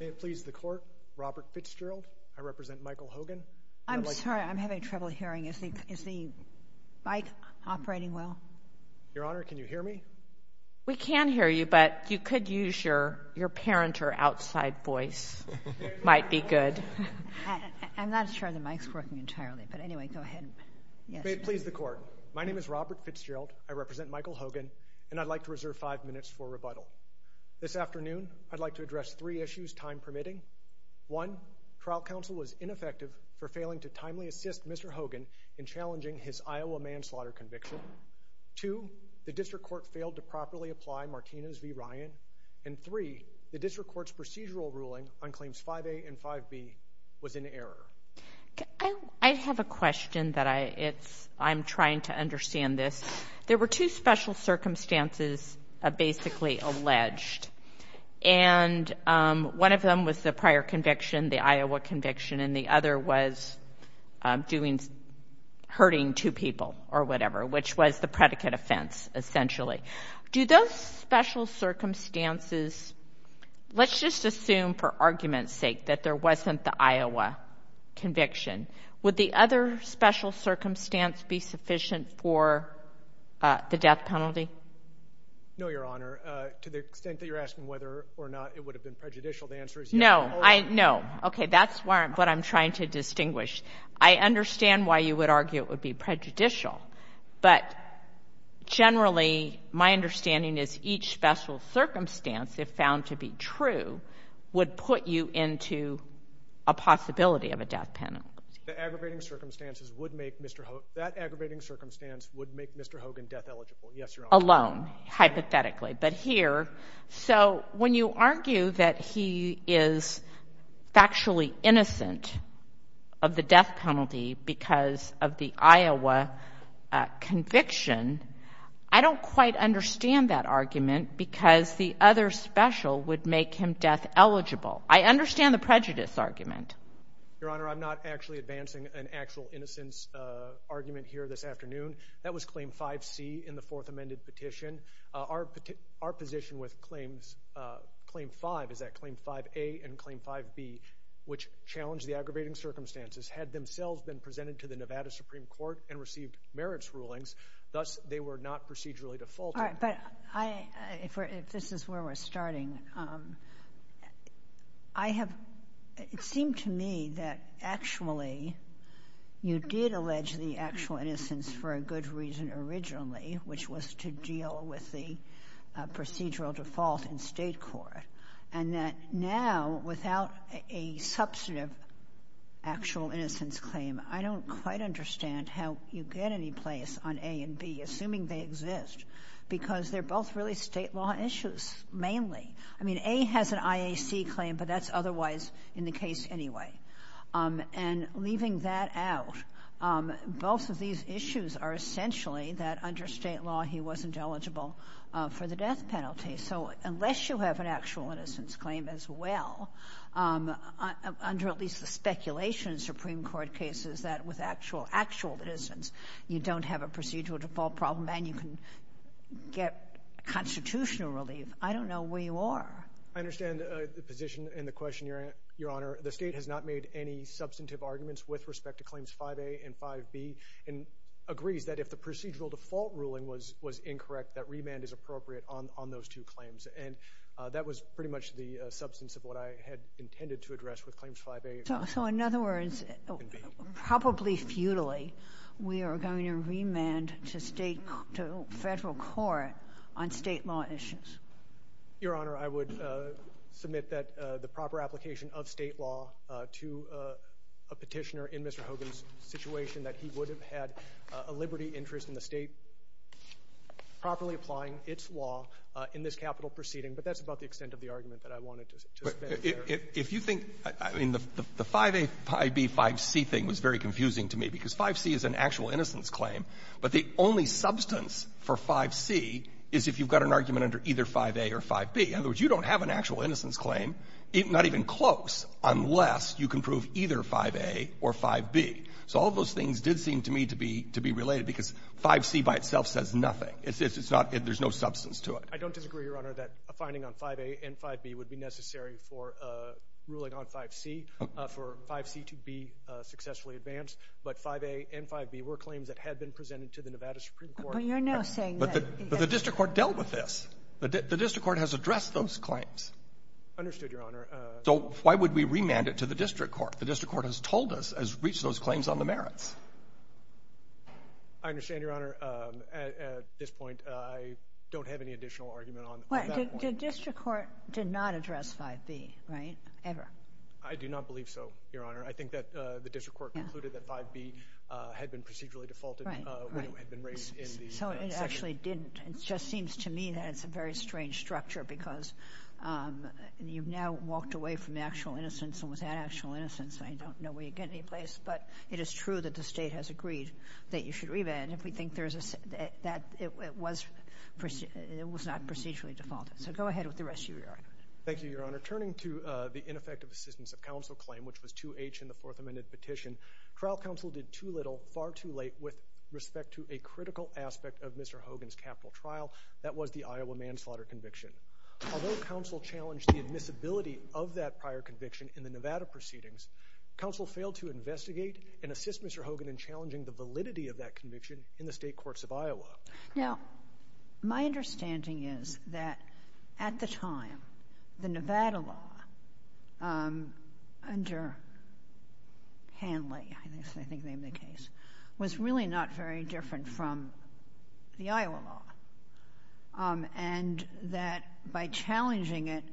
May it please the court, Robert Fitzgerald. I represent Michael Hogan. I'm sorry, I'm having trouble hearing. Is the mic operating well? Your Honor, can you hear me? We can hear you, but you could use your your parent or outside voice. Might be good. I'm not sure the mic's working entirely, but anyway, go ahead. May it please the court, my name is Robert Fitzgerald. I represent Michael Hogan, and I'd like to reserve five minutes for rebuttal. This afternoon, I'd like to address three issues time permitting. One, trial counsel was ineffective for failing to timely assist Mr. Hogan in challenging his Iowa manslaughter conviction. Two, the district court failed to properly apply Martinez v. Ryan. And three, the district court's procedural ruling on claims 5a and 5b was in error. I have a question that I it's I'm trying to understand this. There were two special circumstances basically alleged, and one of them was the prior conviction, the Iowa conviction, and the other was doing, hurting two people or whatever, which was the predicate offense, essentially. Do those special circumstances, let's just assume for argument's sake that there wasn't the Iowa conviction. Would the other special circumstance be sufficient for the death penalty? No, Your Honor. To the extent that you're asking whether or not it would have been prejudicial, the answer is yes. No. No. Okay. That's what I'm trying to distinguish. I understand why you would argue it would be prejudicial, but generally, my understanding is each special circumstance, if found to be true, would put you into a possibility of a death penalty. The aggravating circumstances would make Mr. Hogan, that aggravating circumstance would make Mr. Hogan death eligible. Yes, Your Honor. Alone, hypothetically. But here, so when you argue that he is factually innocent of the death penalty because of the Iowa conviction, I don't quite understand that argument because the other special would make him death eligible. I understand the prejudice argument. Your Honor, I'm not actually advancing an actual innocence argument here this afternoon. That was Claim 5C in the Fourth Amended Petition. Our position with Claim 5 is that Claim 5A and Claim 5B, which challenged the aggravating circumstances, had themselves been presented to the Nevada Supreme Court and received merits rulings. Thus, they were not procedurally defaulted. All right. But I, if we're, if this is where we're starting, I have, it seemed to me that actually, you did allege the actual innocence for a good reason originally, which was to deal with the procedural default in State court. And that now, without a substantive actual innocence claim, I don't quite understand how you get any place on A and B, assuming they exist, because they're both really State law issues, mainly. I mean, A has an IAC claim, but that's otherwise in the case anyway. And leaving that out, both of these issues are essentially that under State law, he wasn't eligible for the death penalty. So unless you have an actual innocence claim as well, under at least the speculation in Supreme Court cases, that with actual, actual innocence, you don't have a procedural default problem, and you can get constitutional relief. I don't know where you are. I understand the position and the question, Your Honor. The State has not made any substantive arguments with respect to Claims 5A and 5B, and agrees that if the procedural default ruling was, was incorrect, that remand is appropriate on, on those two claims. And that was pretty much the substance of what I had intended to address with Claims 5A. So in other words, probably futilely, we are going to remand to State, to Federal court on State law issues? Your Honor, I would submit that the proper application of State law to a Petitioner in Mr. Hogan's situation, that he would have had a liberty interest in the State properly applying its law in this capital proceeding. But that's about the extent of the argument that I wanted to spend here. If you think, I mean, the 5A, 5B, 5C thing was very confusing to me, because 5C is an actual innocence claim. But the only substance for 5C is if you've got an argument under either 5A or 5B. In other words, you don't have an actual innocence claim, not even close, unless you can prove either 5A or 5B. So all those things did seem to me to be, to be related, because 5C by itself says nothing. It's not, there's no substance to it. I don't disagree, Your Honor, that a finding on 5A and 5B would be necessary for ruling on 5C, for 5C to be successfully advanced. But 5A and 5B were claims that had been presented to the Nevada Supreme Court. But you're now saying that the — But the District Court dealt with this. The District Court has addressed those claims. Understood, Your Honor. So why would we remand it to the District Court? The District Court has told us, has reached those claims on the merits. I understand, Your Honor. At this point, I don't have any additional argument on that point. The District Court did not address 5B, right? Ever. I do not believe so, Your Honor. I think that the District Court concluded that 5B had been procedurally defaulted when it had been raised in the session. So it actually didn't. It just seems to me that it's a very strange structure because you've now walked away from the actual innocence and without actual innocence, I don't know where you'd get any place. But it is true that the State has agreed that you should remand if we think there's a — that it was not procedurally defaulted. So go ahead with the rest of your argument. Thank you, Your Honor. Turning to the ineffective assistance of counsel claim, which was 2H in the Fourth Amendment petition, trial counsel did too little far too late with respect to a critical aspect of Mr. Hogan's capital trial. That was the Iowa manslaughter conviction. Although counsel challenged the admissibility of that prior conviction in the Nevada proceedings, counsel failed to investigate and assist Mr. Hogan in challenging the validity of that conviction in the state courts of Iowa. Now, my understanding is that at the time, the Nevada law under Hanley, I think they named the case, was really not very different from the Iowa law. And that by challenging it,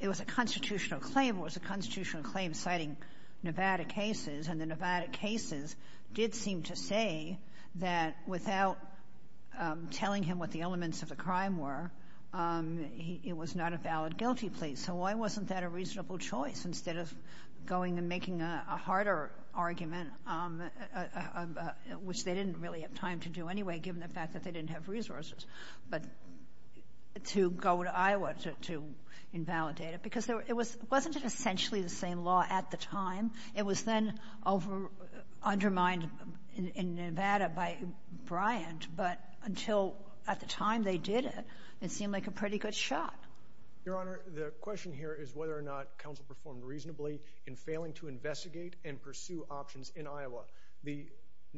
it was a constitutional claim. It was a constitutional claim citing Nevada cases. And the Nevada cases did seem to say that without telling him what the elements of the crime were, it was not a valid guilty plea. So why wasn't that a reasonable choice instead of going and making a harder argument, which they didn't really have time to do anyway given the fact that they didn't have resources, but to go to Iowa to invalidate it? Because it wasn't essentially the same law at the time. It was then undermined in Nevada by Bryant. But until at the time they did it, it seemed like a pretty good shot. Your Honor, the question here is whether or not counsel performed reasonably in failing to investigate and pursue options in Iowa.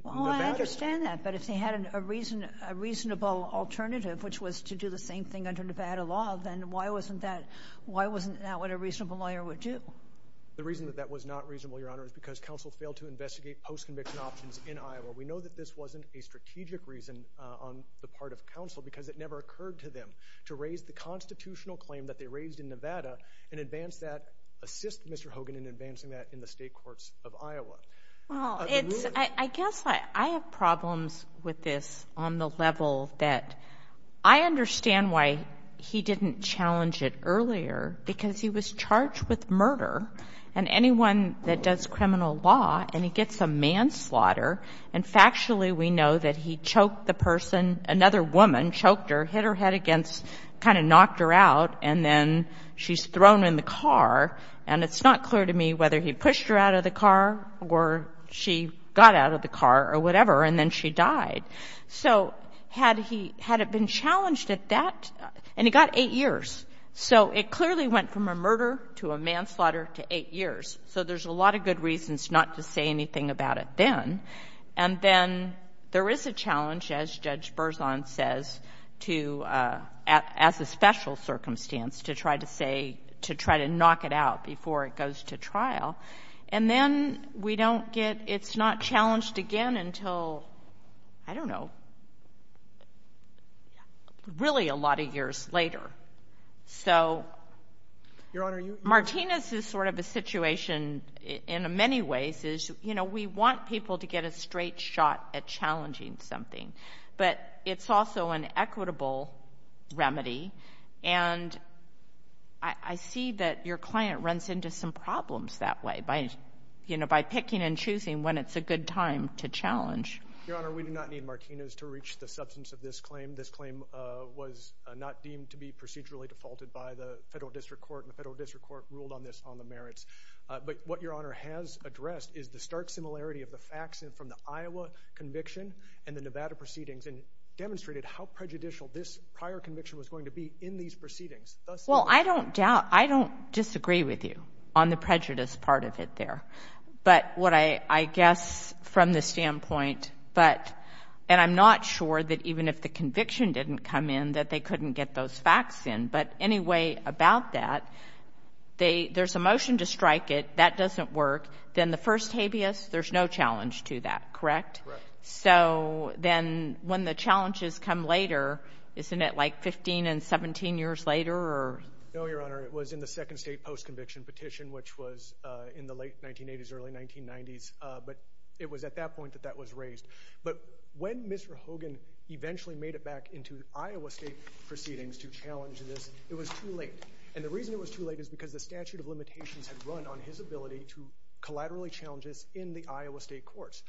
Well, I understand that, but if they had a reasonable alternative, which was to do the same thing under Nevada law, then why wasn't that what a reasonable lawyer would do? The reason that that was not reasonable, Your Honor, is because counsel failed to investigate post-conviction options in Iowa. We know that this wasn't a strategic reason on the part of counsel because it never occurred to them to raise the constitutional claim that they raised in Nevada I guess I have problems with this on the level that I understand why he didn't challenge it earlier, because he was charged with murder, and anyone that does criminal law, and he gets a manslaughter, and factually we know that he choked the person, another woman choked her, hit her head against, kind of knocked her out, and then she's thrown in the car. And it's not clear to me whether he pushed her out of the car or she got out of the car or whatever, and then she died. So had he been challenged at that, and he got eight years. So it clearly went from a murder to a manslaughter to eight years. So there's a lot of good reasons not to say anything about it then. And then there is a challenge, as Judge Berzon says, to, as a special circumstance, to try to say, to try to knock it out before it goes to trial. And then we don't get, it's not challenged again until, I don't know, really a lot of years later. So Martinez is sort of a situation in many ways is, you know, we want people to get a straight shot at challenging something, but it's also an equitable remedy. And I see that your client runs into some problems that way by, you know, by picking and choosing when it's a good time to challenge. Your Honor, we do not need Martinez to reach the substance of this claim. This claim was not deemed to be procedurally defaulted by the federal district court, and the federal district court ruled on this on the merits. But what Your Honor has addressed is the stark similarity of the facts from the Iowa conviction and the Nevada proceedings and demonstrated how prejudicial this prior conviction was going to be in these proceedings. Well, I don't doubt, I don't disagree with you on the prejudice part of it there. But what I guess from the standpoint, but, and I'm not sure that even if the conviction didn't come in, that they couldn't get those facts in. But anyway, about that, there's a motion to strike it. That doesn't work. Then the first habeas, there's no challenge to that, correct? Correct. So then when the challenges come later, isn't it like 15 and 17 years later? No, Your Honor. It was in the second state post-conviction petition, which was in the late 1980s, early 1990s. But it was at that point that that was raised. But when Mr. Hogan eventually made it back into Iowa state proceedings to challenge this, it was too late. And the reason it was too late is because the statute of limitations had run on his ability to collaterally challenge this in the Iowa state courts.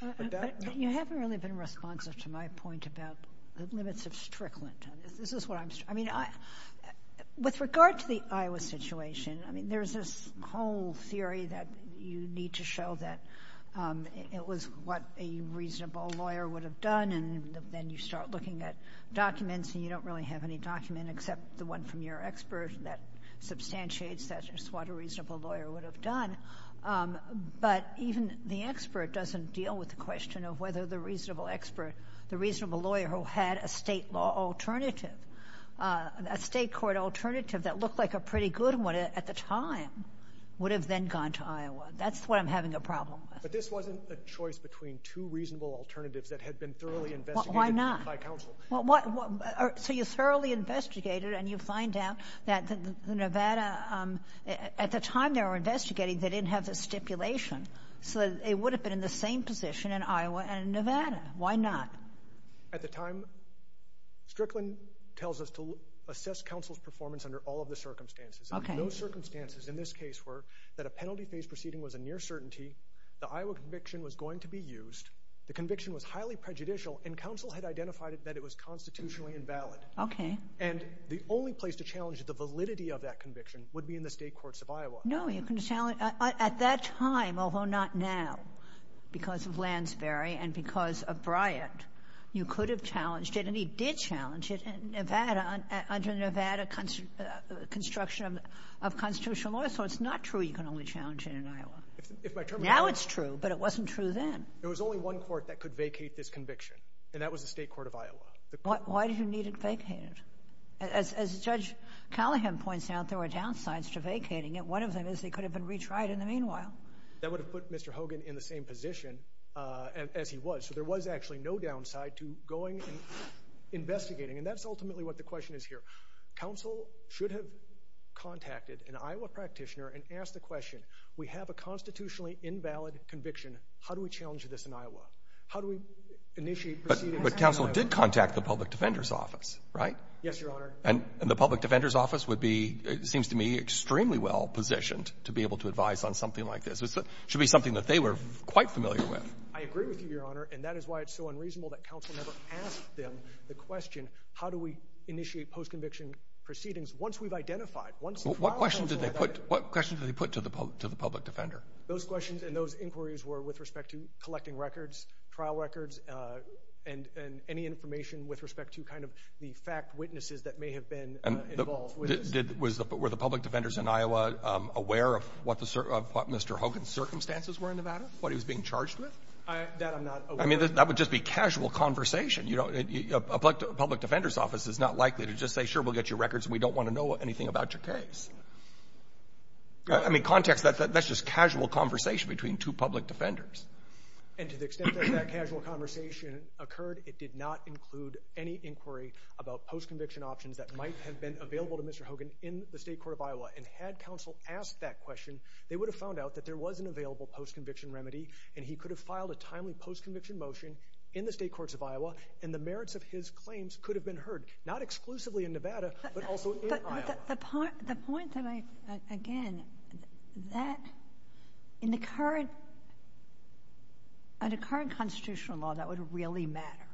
You haven't really been responsive to my point about the limits of strickland. This is what I'm, I mean, with regard to the Iowa situation, I mean, there's this whole theory that you need to show that it was what a reasonable lawyer would have done. And then you start looking at documents, and you don't really have any document except the one from your expert that substantiates that it's what a reasonable lawyer would have done. But even the expert doesn't deal with the question of whether the reasonable expert, the reasonable lawyer who had a state law alternative, a state court alternative that looked like a pretty good one at the time would have then gone to Iowa. That's what I'm having a problem with. But this wasn't a choice between two reasonable alternatives that had been thoroughly investigated by counsel. Why not? So you thoroughly investigated, and you find out that the Nevada, at the time they were investigating, they didn't have the stipulation. So it would have been in the same position in Iowa and Nevada. Why not? At the time, strickland tells us to assess counsel's performance under all of the circumstances. Okay. And those circumstances in this case were that a penalty phase proceeding was a near certainty, the Iowa conviction was going to be used, the conviction was highly prejudicial, and counsel had identified that it was constitutionally invalid. Okay. And the only place to challenge the validity of that conviction would be in the state courts of Iowa. No, you can challenge at that time, although not now, because of Lansbury and because of Bryant, you could have challenged it. And he did challenge it in Nevada under Nevada construction of constitutional law. So it's not true you can only challenge it in Iowa. Now it's true, but it wasn't true then. There was only one court that could vacate this conviction, and that was the state court of Iowa. Why did you need it vacated? As Judge Callahan points out, there were downsides to vacating it. One of them is they could have been retried in the meanwhile. That would have put Mr. Hogan in the same position as he was. So there was actually no downside to going and investigating, and that's ultimately what the question is here. Counsel should have contacted an Iowa practitioner and asked the question, we have a constitutionally invalid conviction. How do we challenge this in Iowa? How do we initiate proceedings in Iowa? But counsel did contact the public defender's office, right? Yes, Your Honor. And the public defender's office would be, it seems to me, extremely well positioned to be able to advise on something like this. It should be something that they were quite familiar with. I agree with you, Your Honor. And that is why it's so unreasonable that counsel never asked them the question, how do we initiate post-conviction proceedings once we've identified? What questions did they put to the public defender? Those questions and those inquiries were with respect to collecting records, trial records, and any information with respect to kind of the fact witnesses that may have been involved. Were the public defenders in Iowa aware of what Mr. Hogan's circumstances were in Nevada, what he was being charged with? That I'm not aware of. I mean, that would just be casual conversation. A public defender's office is not likely to just say, sure, we'll get your records, and we don't want to know anything about your case. I mean, context, that's just casual conversation between two public defenders. And to the extent that that casual conversation occurred, it did not include any inquiry about post-conviction options that might have been available to Mr. Hogan in the state court of Iowa. And had counsel asked that question, they would have found out that there was an available post-conviction remedy, and he could have filed a timely post-conviction motion in the state courts of Iowa, and the merits of his claims could have been heard, not exclusively in Nevada, but also in Iowa. The point, again, that in the current constitutional law, that would really matter,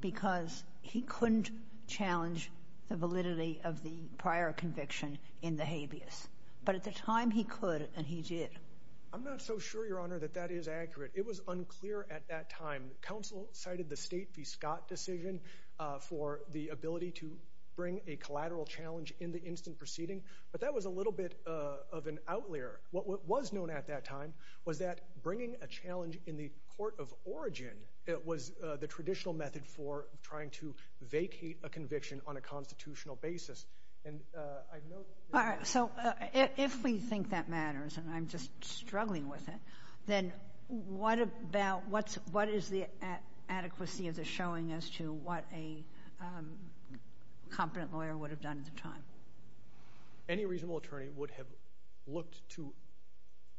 because he couldn't challenge the validity of the prior conviction in the habeas. But at the time, he could, and he did. I'm not so sure, Your Honor, that that is accurate. It was unclear at that time. Counsel cited the state v. Scott decision for the ability to bring a collateral challenge in the instant proceeding, but that was a little bit of an outlier. What was known at that time was that bringing a challenge in the court of origin was the traditional method for trying to vacate a conviction on a constitutional basis. And I note that— All right, so if we think that matters, and I'm just struggling with it, then what about—what is the adequacy of the showing as to what a competent lawyer would have done at the time? Any reasonable attorney would have looked to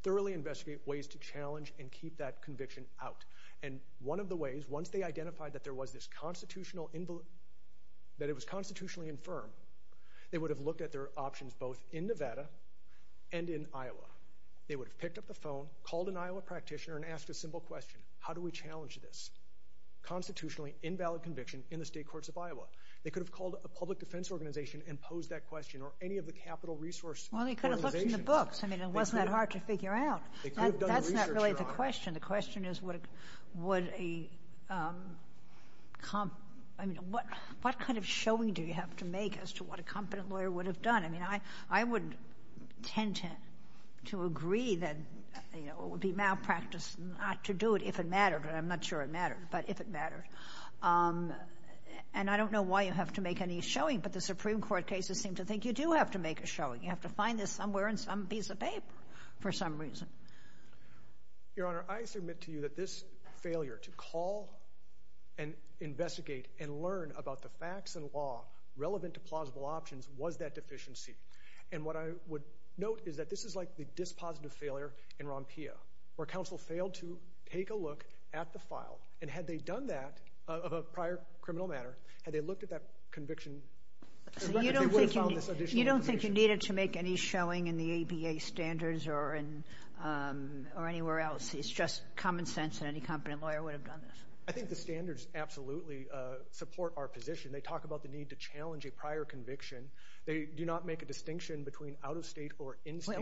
thoroughly investigate ways to challenge and keep that conviction out. And one of the ways, once they identified that there was this constitutional— that it was constitutionally infirm, they would have picked up the phone, called an Iowa practitioner, and asked a simple question. How do we challenge this constitutionally invalid conviction in the state courts of Iowa? They could have called a public defense organization and posed that question or any of the capital resource organizations. Well, they could have looked in the books. I mean, it wasn't that hard to figure out. They could have done research, Your Honor. That's not really the question. The question is, what kind of showing do you have to make as to what a competent lawyer would have done? I mean, I would tend to agree that it would be malpractice not to do it if it mattered, and I'm not sure it mattered, but if it mattered. And I don't know why you have to make any showing, but the Supreme Court cases seem to think you do have to make a showing. You have to find this somewhere in some piece of paper for some reason. Your Honor, I submit to you that this failure to call and investigate and learn about the facts and law relevant to plausible options was that deficiency. And what I would note is that this is like the dispositive failure in Rompia where counsel failed to take a look at the file, and had they done that of a prior criminal matter, had they looked at that conviction? You don't think you needed to make any showing in the ABA standards or anywhere else. It's just common sense that any competent lawyer would have done this. I think the standards absolutely support our position. They talk about the need to challenge a prior conviction. They do not make a distinction between out-of-state or in-state.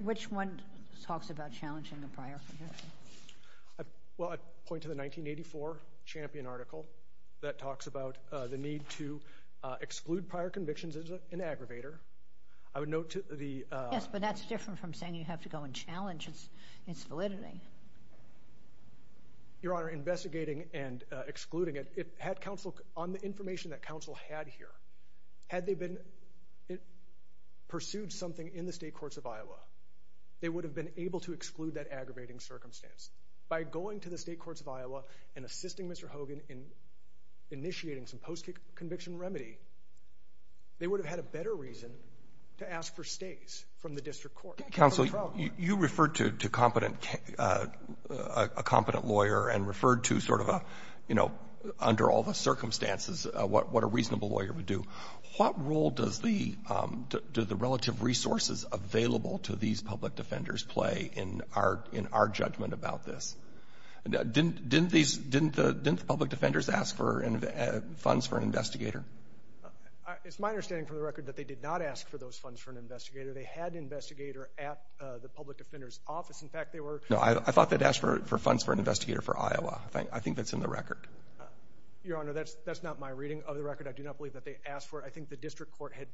Which one talks about challenging a prior conviction? Well, I'd point to the 1984 Champion article that talks about the need to exclude prior convictions as an aggravator. I would note to the— Yes, but that's different from saying you have to go and challenge its validity. Your Honor, investigating and excluding it, on the information that counsel had here, had they pursued something in the state courts of Iowa, they would have been able to exclude that aggravating circumstance. By going to the state courts of Iowa and assisting Mr. Hogan in initiating some post-conviction remedy, they would have had a better reason to ask for stays from the district court. Counsel, you referred to a competent lawyer and referred to sort of a, you know, under all the circumstances, what a reasonable lawyer would do. What role do the relative resources available to these public defenders play in our judgment about this? Didn't the public defenders ask for funds for an investigator? It's my understanding, for the record, that they did not ask for those funds for an investigator. They had an investigator at the public defender's office. No, I thought they'd asked for funds for an investigator for Iowa. I think that's in the record. Your Honor, that's not my reading of the record. I do not believe that they asked for it. I think the district court had,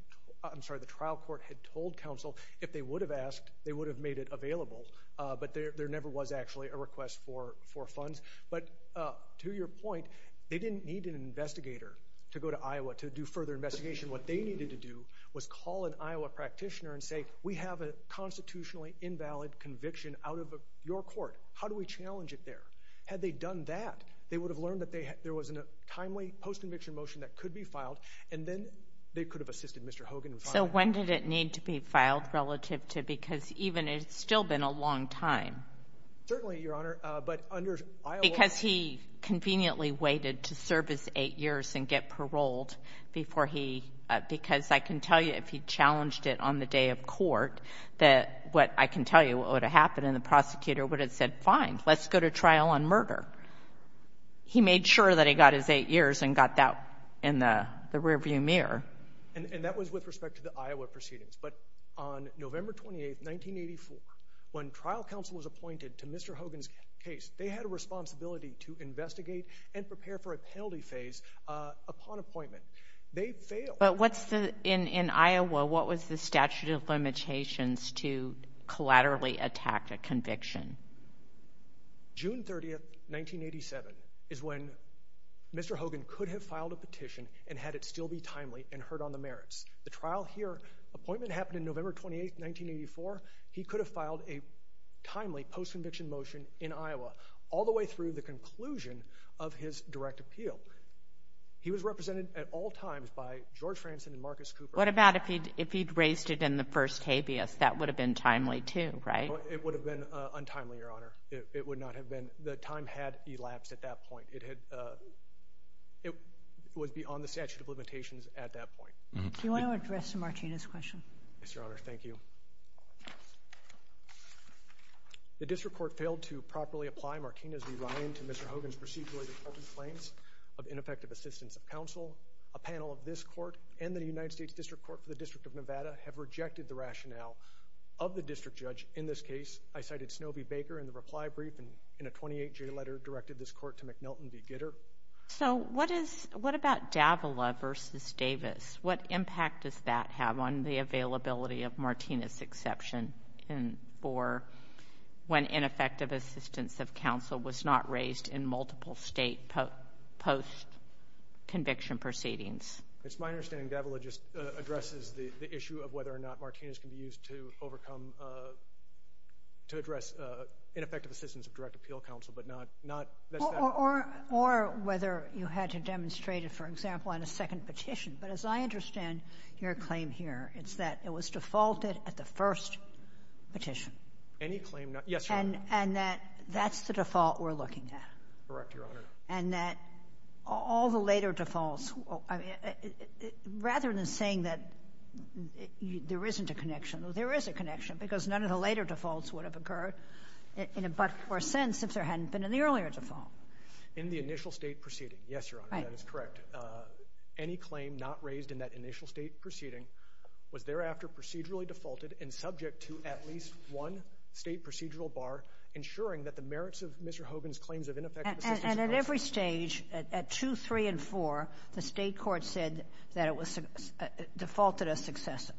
I'm sorry, the trial court had told counsel if they would have asked, they would have made it available. But there never was actually a request for funds. But to your point, they didn't need an investigator to go to Iowa to do further investigation. What they needed to do was call an Iowa practitioner and say, we have a constitutionally invalid conviction out of your court. How do we challenge it there? Had they done that, they would have learned that there was a timely post-conviction motion that could be filed, and then they could have assisted Mr. Hogan in filing it. So when did it need to be filed relative to because it's still been a long time? Certainly, Your Honor. Because he conveniently waited to serve his eight years and get paroled because I can tell you if he challenged it on the day of court, I can tell you what would have happened, and the prosecutor would have said, fine, let's go to trial on murder. He made sure that he got his eight years and got that in the rearview mirror. And that was with respect to the Iowa proceedings. But on November 28, 1984, when trial counsel was appointed to Mr. Hogan's case, they had a responsibility to investigate and prepare for a penalty phase upon appointment. They failed. But in Iowa, what was the statute of limitations to collaterally attack a conviction? June 30, 1987, is when Mr. Hogan could have filed a petition and had it still be timely and heard on the merits. The trial here, appointment happened on November 28, 1984. He could have filed a timely post-conviction motion in Iowa all the way through the conclusion of his direct appeal. He was represented at all times by George Franson and Marcus Cooper. What about if he'd raised it in the first habeas? That would have been timely too, right? It would have been untimely, Your Honor. It would not have been. The time had elapsed at that point. It was beyond the statute of limitations at that point. Do you want to address Martinez's question? Yes, Your Honor. Thank you. The district court failed to properly apply Martinez v. Ryan to Mr. Hogan's procedurally reported claims of ineffective assistance of counsel. A panel of this court and the United States District Court for the District of Nevada have rejected the rationale of the district judge in this case. I cited Snobie Baker in the reply brief and in a 28-J letter directed this court to McNelton v. Gitter. So what about Davila v. Davis? What impact does that have on the availability of Martinez's exception for when ineffective assistance of counsel was not raised in multiple state post-conviction proceedings? It's my understanding Davila just addresses the issue of whether or not Martinez can be used to overcome, to address ineffective assistance of direct appeal counsel. Or whether you had to demonstrate it, for example, on a second petition. But as I understand your claim here, it's that it was defaulted at the first petition. Yes, Your Honor. And that that's the default we're looking at. Correct, Your Honor. And that all the later defaults, rather than saying that there isn't a connection, there is a connection because none of the later defaults would have occurred in a but or since if there hadn't been an earlier default. In the initial state proceeding, yes, Your Honor, that is correct. But any claim not raised in that initial state proceeding was thereafter procedurally defaulted and subject to at least one state procedural bar, ensuring that the merits of Mr. Hogan's claims of ineffective assistance of counsel And at every stage, at 2, 3, and 4, the state court said that it was defaulted as successive.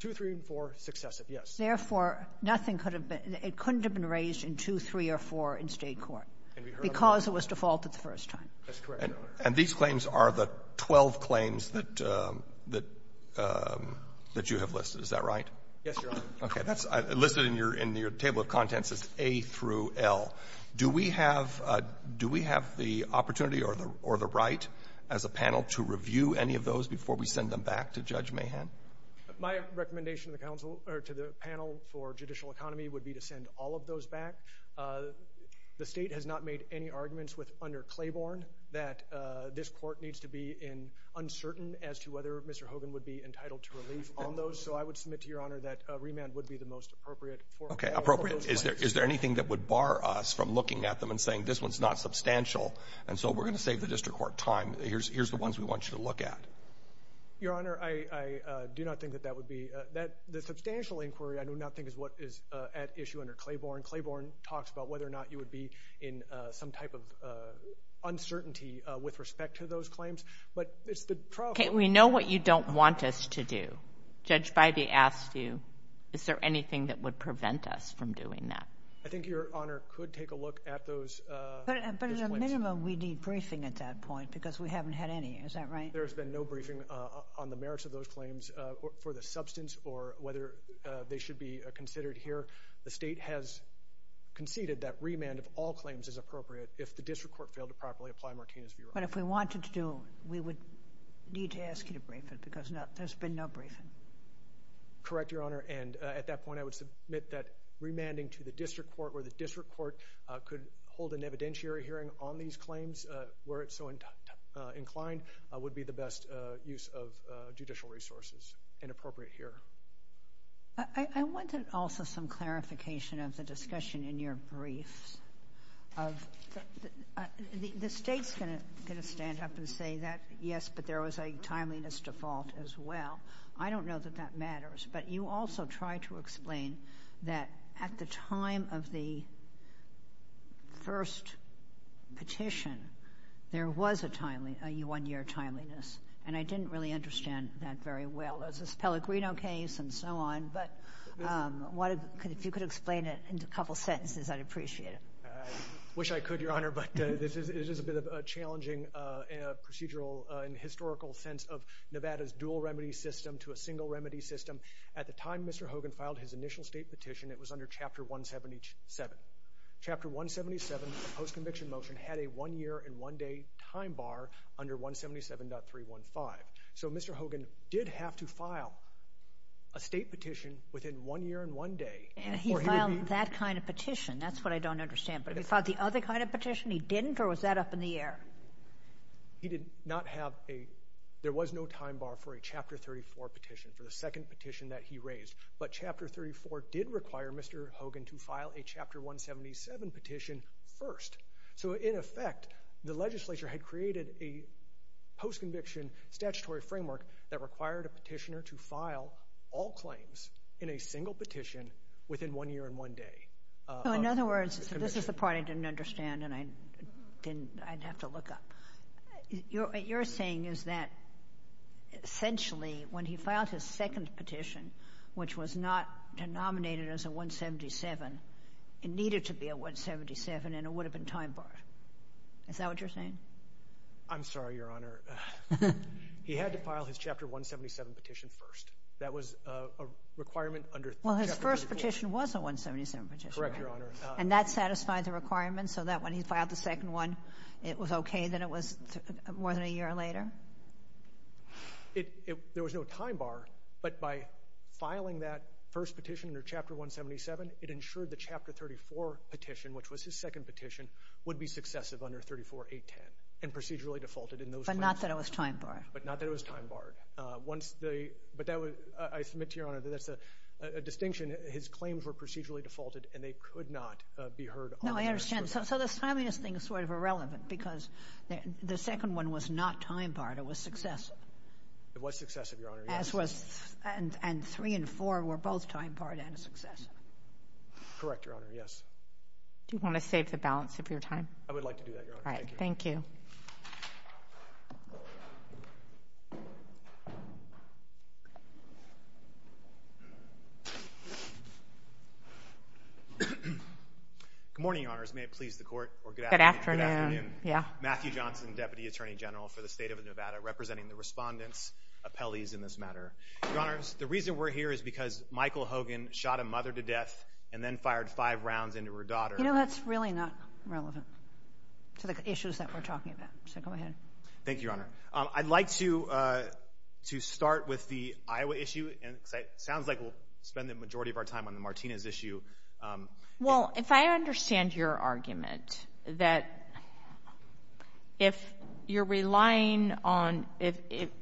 2, 3, and 4, successive, yes. Therefore, it couldn't have been raised in 2, 3, or 4 in state court because it was defaulted the first time. That's correct, Your Honor. And these claims are the 12 claims that you have listed. Is that right? Yes, Your Honor. Okay. That's listed in your table of contents is A through L. Do we have the opportunity or the right as a panel to review any of those before we send them back to Judge Mahan? My recommendation to the panel for judicial economy would be to send all of those back. The state has not made any arguments under Claiborne that this court needs to be uncertain as to whether Mr. Hogan would be entitled to relief on those. So I would submit to Your Honor that remand would be the most appropriate for all of those claims. Okay, appropriate. Is there anything that would bar us from looking at them and saying this one's not substantial and so we're going to save the district court time? Here's the ones we want you to look at. Your Honor, I do not think that that would be. The substantial inquiry I do not think is what is at issue under Claiborne. Claiborne talks about whether or not you would be in some type of uncertainty with respect to those claims, but it's the trial. Okay, we know what you don't want us to do. Judge Bybee asked you, is there anything that would prevent us from doing that? I think Your Honor could take a look at those. But at a minimum, we need briefing at that point because we haven't had any. Is that right? There's been no briefing on the merits of those claims for the substance or whether they should be considered here. The state has conceded that remand of all claims is appropriate if the district court failed to properly apply Martina's view. But if we wanted to, we would need to ask you to brief it because there's been no briefing. Correct, Your Honor, and at that point I would submit that remanding to the district court or the district court could hold an evidentiary hearing on these claims where it's so inclined would be the best use of judicial resources and appropriate here. I wanted also some clarification of the discussion in your briefs. The state's going to stand up and say that, yes, but there was a timeliness default as well. I don't know that that matters, but you also tried to explain that at the time of the first petition, there was a one-year timeliness, and I didn't really understand that very well. It's a Pellegrino case and so on, but if you could explain it in a couple sentences, I'd appreciate it. I wish I could, Your Honor, but it is a bit of a challenging procedural and historical sense of Nevada's dual remedy system to a single remedy system. At the time Mr. Hogan filed his initial state petition, it was under Chapter 177. Chapter 177, the post-conviction motion, had a one-year and one-day time bar under 177.315. So Mr. Hogan did have to file a state petition within one year and one day. He filed that kind of petition? That's what I don't understand. But he filed the other kind of petition he didn't, or was that up in the air? He did not have a—there was no time bar for a Chapter 34 petition, for the second petition that he raised. But Chapter 34 did require Mr. Hogan to file a Chapter 177 petition first. So in effect, the legislature had created a post-conviction statutory framework that required a petitioner to file all claims in a single petition within one year and one day. So in other words, this is the part I didn't understand and I'd have to look up. What you're saying is that essentially when he filed his second petition, which was not denominated as a 177, it needed to be a 177 and it would have been time barred. Is that what you're saying? I'm sorry, Your Honor. He had to file his Chapter 177 petition first. That was a requirement under Chapter 34. Well, his first petition was a 177 petition. Correct, Your Honor. And that satisfied the requirements so that when he filed the second one, it was okay that it was more than a year later? There was no time bar. But by filing that first petition under Chapter 177, it ensured the Chapter 34 petition, which was his second petition, would be successive under 34-810 and procedurally defaulted in those claims. But not that it was time barred. But not that it was time barred. But I submit to Your Honor that that's a distinction. His claims were procedurally defaulted and they could not be heard on the record. No, I understand. So the timeliness thing is sort of irrelevant because the second one was not time barred. It was successive. It was successive, Your Honor. And three and four were both time barred and successive. Correct, Your Honor. Yes. Do you want to save the balance of your time? I would like to do that, Your Honor. Thank you. All right. Thank you. Thank you. Good morning, Your Honors. May it please the Court. Good afternoon. Matthew Johnson, Deputy Attorney General for the State of Nevada, representing the respondents, appellees in this matter. Your Honors, the reason we're here is because Michael Hogan shot a mother to death and then fired five rounds into her daughter. You know, that's really not relevant to the issues that we're talking about. So go ahead. Thank you, Your Honor. I'd like to start with the Iowa issue. It sounds like we'll spend the majority of our time on the Martinez issue. Well, if I understand your argument, that if you're relying on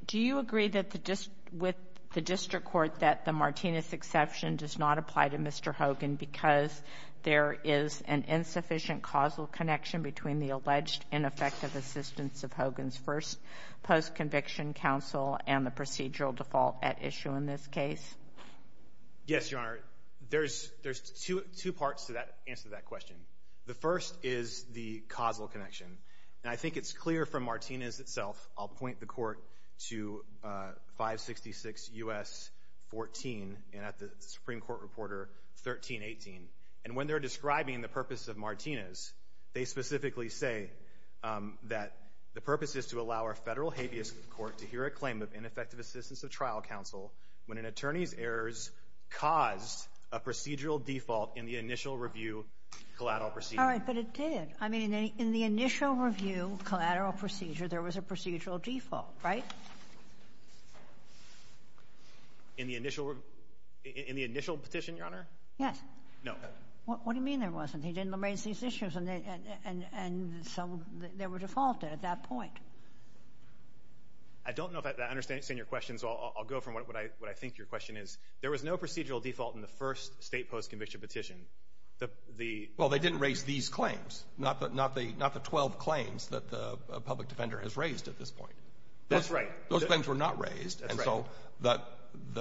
do you agree with the district court that the Martinez exception does not apply to Mr. Hogan because there is an insufficient causal connection between the alleged ineffective assistance of Hogan's first post-conviction counsel and the procedural default at issue in this case? Yes, Your Honor. There's two parts to that answer to that question. The first is the causal connection. And I think it's clear from Martinez itself. I'll point the Court to 566 U.S. 14 and at the Supreme Court Reporter 1318. And when they're describing the purpose of Martinez, they specifically say that the purpose is to allow our federal habeas court to hear a claim of ineffective assistance of trial counsel when an attorney's errors caused a procedural default in the initial review collateral procedure. All right, but it did. I mean, in the initial review collateral procedure, there was a procedural default, right? In the initial petition, Your Honor? Yes. No. What do you mean there wasn't? He didn't raise these issues, and so they were defaulted at that point. I don't know if I understand your question, so I'll go from what I think your question is. There was no procedural default in the first state post-conviction petition. Well, they didn't raise these claims, not the 12 claims that the public defender has raised at this point. That's right. Those claims were not raised. That's right. And so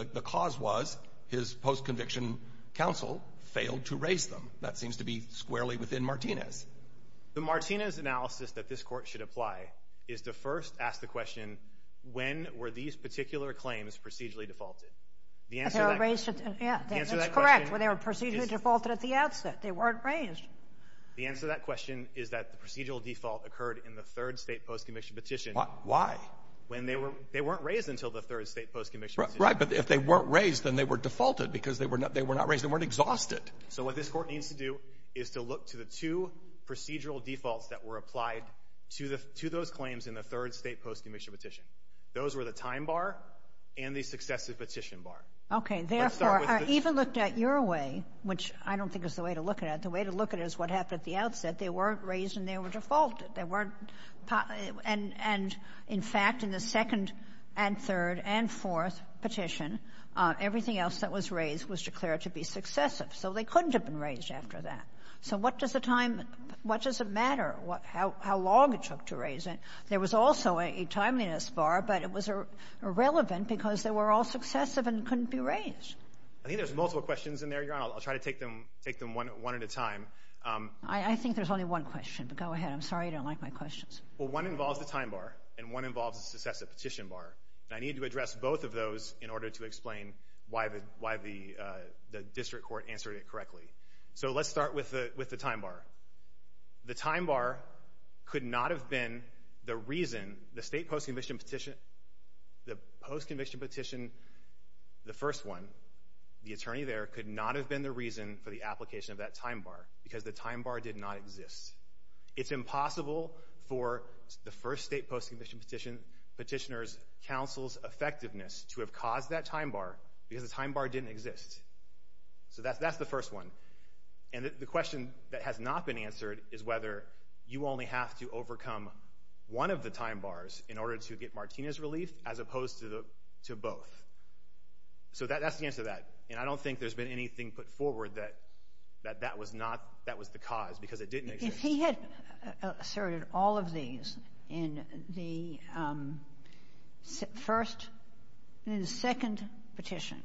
the cause was his post-conviction counsel failed to raise them. That seems to be squarely within Martinez. The Martinez analysis that this court should apply is to first ask the question, when were these particular claims procedurally defaulted? They were raised at the end. That's correct. They were procedurally defaulted at the outset. They weren't raised. The answer to that question is that the procedural default occurred in the third state post-conviction petition. Why? They weren't raised until the third state post-conviction petition. Right, but if they weren't raised, then they were defaulted because they were not raised. They weren't exhausted. So what this court needs to do is to look to the two procedural defaults that were applied to those claims in the third state post-conviction petition. Those were the time bar and the successive petition bar. Okay. Therefore, I even looked at your way, which I don't think is the way to look at it. The way to look at it is what happened at the outset. They weren't raised and they were defaulted. They weren't – and, in fact, in the second and third and fourth petition, everything else that was raised was declared to be successive. So they couldn't have been raised after that. So what does the time – what does it matter how long it took to raise it? There was also a timeliness bar, but it was irrelevant because they were all successive and couldn't be raised. I think there's multiple questions in there, Your Honor. I'll try to take them one at a time. I think there's only one question, but go ahead. I'm sorry you don't like my questions. Well, one involves the time bar and one involves the successive petition bar. And I need to address both of those in order to explain why the district court answered it correctly. So let's start with the time bar. The time bar could not have been the reason the state post-conviction petition – the post-conviction petition, the first one, the attorney there, could not have been the reason for the application of that time bar because the time bar did not exist. It's impossible for the first state post-conviction petition petitioner's counsel's effectiveness to have caused that time bar because the time bar didn't exist. So that's the first one. And the question that has not been answered is whether you only have to overcome one of the time bars in order to get Martinez relief as opposed to both. So that's the answer to that. And I don't think there's been anything put forward that that was not – that was the cause because it didn't exist. If he had asserted all of these in the first – in the second petition,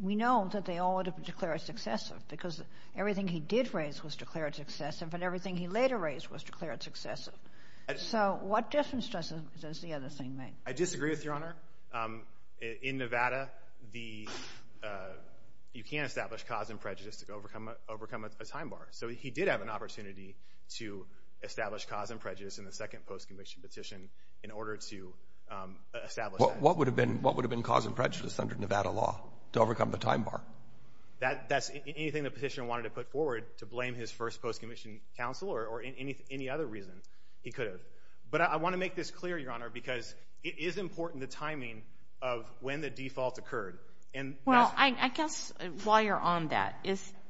we know that they all would have been declared successive because everything he did raise was declared successive and everything he later raised was declared successive. So what difference does the other thing make? I disagree with Your Honor. In Nevada, the – you can't establish cause and prejudice to overcome a time bar. So he did have an opportunity to establish cause and prejudice in the second post-conviction petition in order to establish that. What would have been cause and prejudice under Nevada law to overcome the time bar? That's anything the petitioner wanted to put forward to blame his first post-conviction counsel or any other reason he could have. But I want to make this clear, Your Honor, because it is important, the timing of when the default occurred. Well, I guess while you're on that,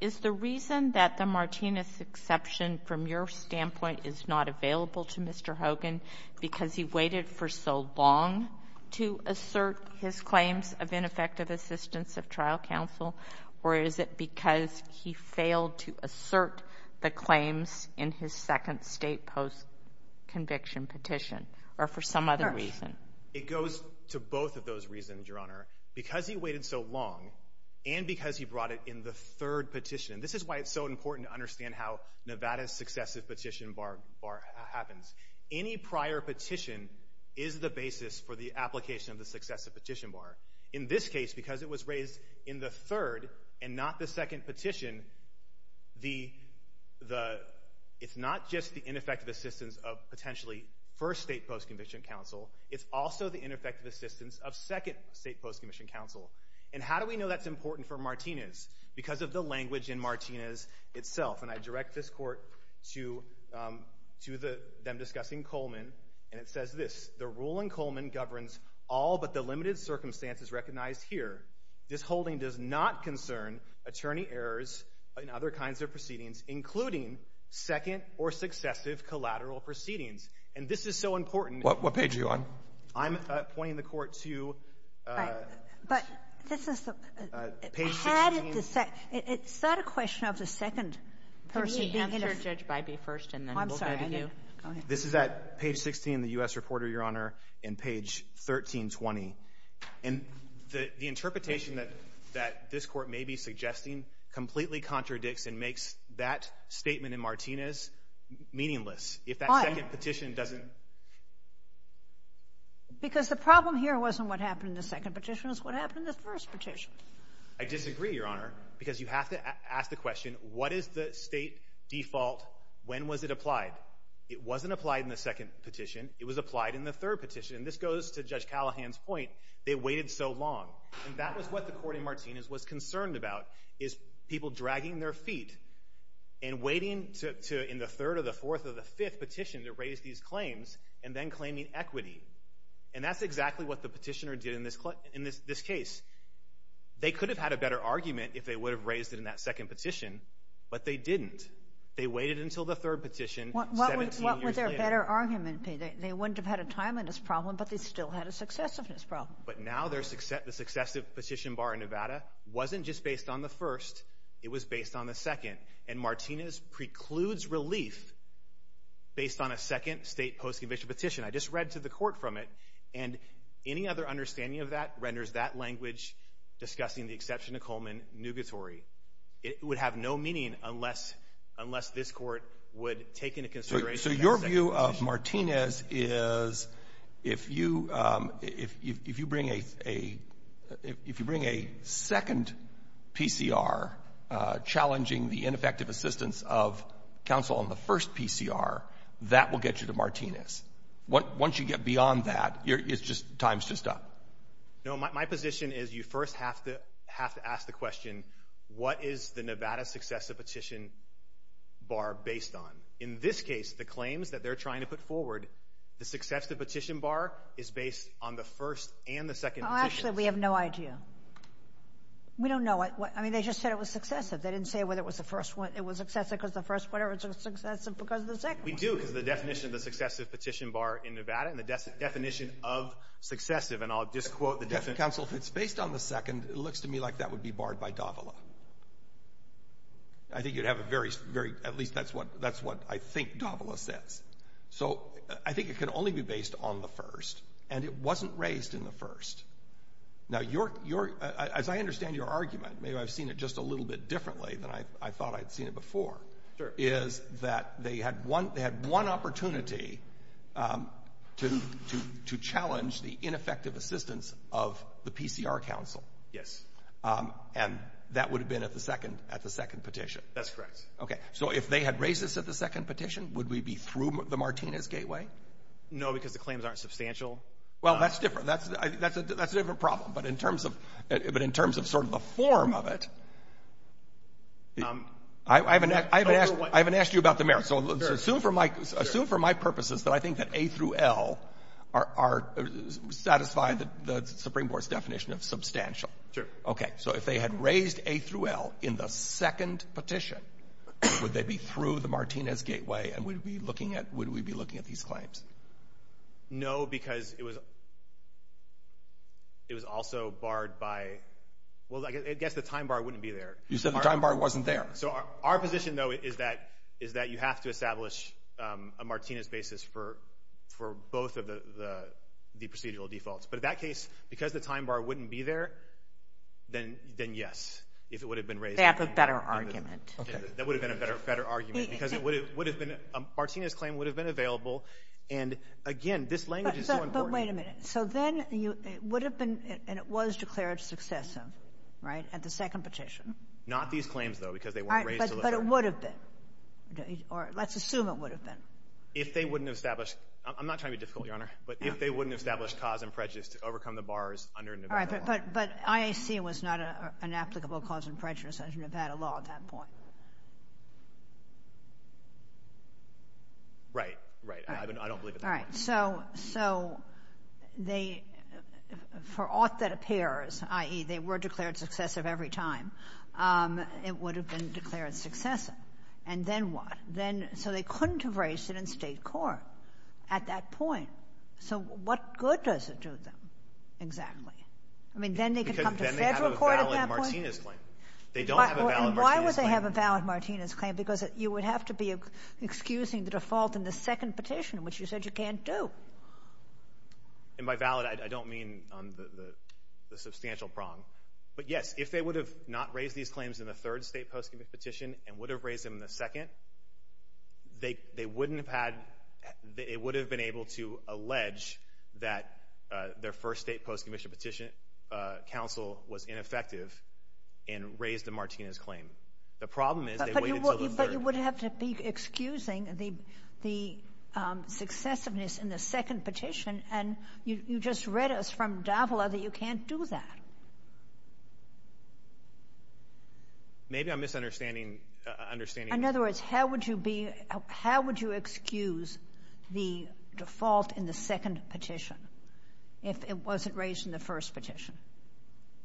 is the reason that the Martinez exception, from your standpoint, is not available to Mr. Hogan because he waited for so long to assert his claims of ineffective assistance of trial counsel, or is it because he failed to assert the claims in his second state post-conviction petition or for some other reason? It goes to both of those reasons, Your Honor, because he waited so long and because he brought it in the third petition. This is why it's so important to understand how Nevada's successive petition bar happens. Any prior petition is the basis for the application of the successive petition bar. In this case, because it was raised in the third and not the second petition, it's not just the ineffective assistance of potentially first state post-conviction counsel, it's also the ineffective assistance of second state post-conviction counsel. And how do we know that's important for Martinez? Because of the language in Martinez itself. And I direct this court to them discussing Coleman, and it says this, the rule in Coleman governs all but the limited circumstances recognized here. This holding does not concern attorney errors in other kinds of proceedings, including second or successive collateral proceedings. And this is so important. What page are you on? I'm pointing the court to page 16. Had the second — is that a question of the second person being answered? Could you answer, Judge Bybee, first, and then we'll go to you? I'm sorry. Go ahead. This is at page 16, the U.S. Reporter, Your Honor, and page 1320. And the interpretation that this court may be suggesting completely contradicts and makes that statement in Martinez meaningless. Fine. If that second petition doesn't — Because the problem here wasn't what happened in the second petition. It's what happened in the first petition. I disagree, Your Honor, because you have to ask the question, what is the state default? When was it applied? It wasn't applied in the second petition. It was applied in the third petition. And this goes to Judge Callahan's point. They waited so long. And that was what the court in Martinez was concerned about, is people dragging their feet and waiting in the third or the fourth or the fifth petition to raise these claims and then claiming equity. And that's exactly what the petitioner did in this case. They could have had a better argument if they would have raised it in that second petition, but they didn't. They waited until the third petition 17 years later. What would their better argument be? They wouldn't have had a timeliness problem, but they still had a successiveness problem. But now the successive petition bar in Nevada wasn't just based on the first. It was based on the second. And Martinez precludes relief based on a second state post-conviction petition. I just read to the court from it, and any other understanding of that renders that language discussing the exception to Coleman nugatory. It would have no meaning unless this court would take into consideration that second petition. So your view of Martinez is if you bring a second PCR challenging the ineffective assistance of counsel on the first PCR, that will get you to Martinez. Once you get beyond that, time's just up. No, my position is you first have to ask the question, what is the Nevada successive petition bar based on? In this case, the claims that they're trying to put forward, the successive petition bar is based on the first and the second petitions. Actually, we have no idea. We don't know. I mean, they just said it was successive. They didn't say whether it was the first one. It was successive because the first one was successive because of the second one. We do because of the definition of the successive petition bar in Nevada and the definition of successive, and I'll just quote the definition. Counsel, if it's based on the second, it looks to me like that would be barred by Davila. I think you'd have a very—at least that's what I think Davila says. So I think it could only be based on the first, and it wasn't raised in the first. Now, as I understand your argument, maybe I've seen it just a little bit differently than I thought I'd seen it before, is that they had one opportunity to challenge the ineffective assistance of the PCR council. Yes. And that would have been at the second petition. That's correct. Okay, so if they had raised this at the second petition, would we be through the Martinez Gateway? No, because the claims aren't substantial. Well, that's different. That's a different problem, but in terms of sort of the form of it, I haven't asked you about the merits. So assume for my purposes that I think that A through L satisfy the Supreme Court's definition of substantial. Sure. Okay, so if they had raised A through L in the second petition, would they be through the Martinez Gateway, and would we be looking at these claims? No, because it was also barred by— Well, I guess the time bar wouldn't be there. You said the time bar wasn't there. So our position, though, is that you have to establish a Martinez basis for both of the procedural defaults. But in that case, because the time bar wouldn't be there, then yes, if it would have been raised. They have a better argument. That would have been a better argument because it would have been—Martinez's claim would have been available. And, again, this language is so important. Wait a minute. So then it would have been, and it was declared successive, right, at the second petition? Not these claims, though, because they weren't raised to the Supreme Court. All right, but it would have been, or let's assume it would have been. If they wouldn't have established—I'm not trying to be difficult, Your Honor, but if they wouldn't have established cause and prejudice to overcome the bars under Nevada law. All right, but IAC was not an applicable cause and prejudice under Nevada law at that point. Right, right. I don't believe it. All right, so they, for aught that appears, i.e., they were declared successive every time, it would have been declared successive. And then what? Then, so they couldn't have raised it in State court at that point. So what good does it do them, exactly? I mean, then they could come to Federal court at that point? Because then they have a valid Martinez claim. They don't have a valid Martinez claim. And why would they have a valid Martinez claim? Because you would have to be excusing the default in the second petition, which you said you can't do. And by valid, I don't mean on the substantial prong. But, yes, if they would have not raised these claims in the third state post-commissioned petition and would have raised them in the second, they wouldn't have had— they would have been able to allege that their first state post-commissioned petition counsel was ineffective and raised the Martinez claim. The problem is they waited until the third. But you would have to be excusing the successiveness in the second petition, and you just read us from Davila that you can't do that. Maybe I'm misunderstanding. In other words, how would you be—how would you excuse the default in the second petition if it wasn't raised in the first petition?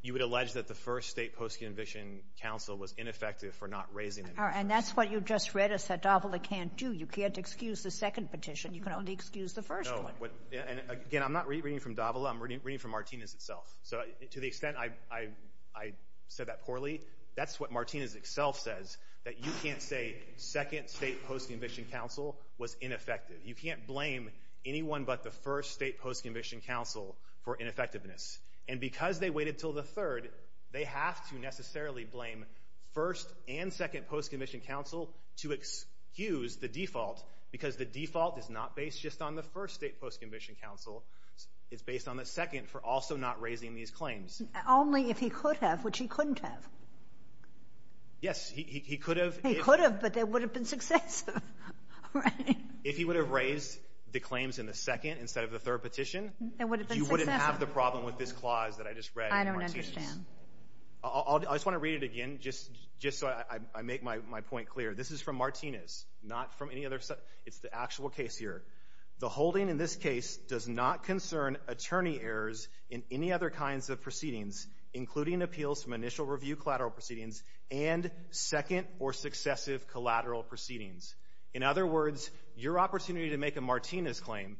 You would allege that the first state post-commissioned counsel was ineffective for not raising it. All right. And that's what you just read us that Davila can't do. You can't excuse the second petition. You can only excuse the first one. No. And, again, I'm not reading from Davila. I'm reading from Martinez itself. So to the extent I said that poorly, that's what Martinez itself says, that you can't say second state post-commissioned counsel was ineffective. You can't blame anyone but the first state post-commissioned counsel for ineffectiveness. And because they waited until the third, they have to necessarily blame first and second post-commissioned counsel to excuse the default because the default is not based just on the first state post-commissioned counsel. It's based on the second for also not raising these claims. Only if he could have, which he couldn't have. Yes, he could have. He could have, but that would have been successive, right? If he would have raised the claims in the second instead of the third petition, you wouldn't have the problem with this clause that I just read in Martinez. I don't understand. I just want to read it again just so I make my point clear. This is from Martinez, not from any other. It's the actual case here. The holding in this case does not concern attorney errors in any other kinds of proceedings, including appeals from initial review collateral proceedings and second or successive collateral proceedings. In other words, your opportunity to make a Martinez claim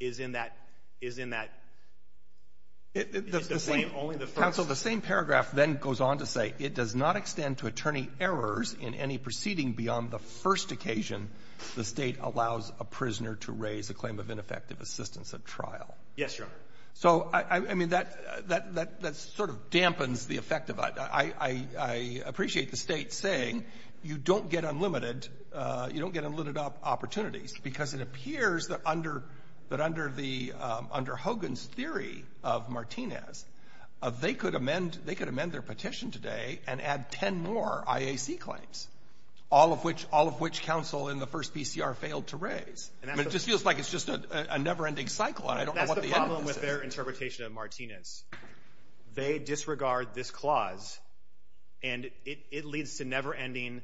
is in that — is in that — Counsel, the same paragraph then goes on to say, it does not extend to attorney errors in any proceeding beyond the first occasion the State allows a prisoner to raise a claim of ineffective assistance at trial. Yes, Your Honor. So, I mean, that sort of dampens the effect of it. I appreciate the State saying you don't get unlimited opportunities because it appears that under Hogan's theory of Martinez, they could amend their petition today and add 10 more IAC claims, all of which counsel in the first PCR failed to raise. I mean, it just feels like it's just a never-ending cycle. I don't know what the end is. That's the problem with their interpretation of Martinez. They disregard this clause, and it leads to never-ending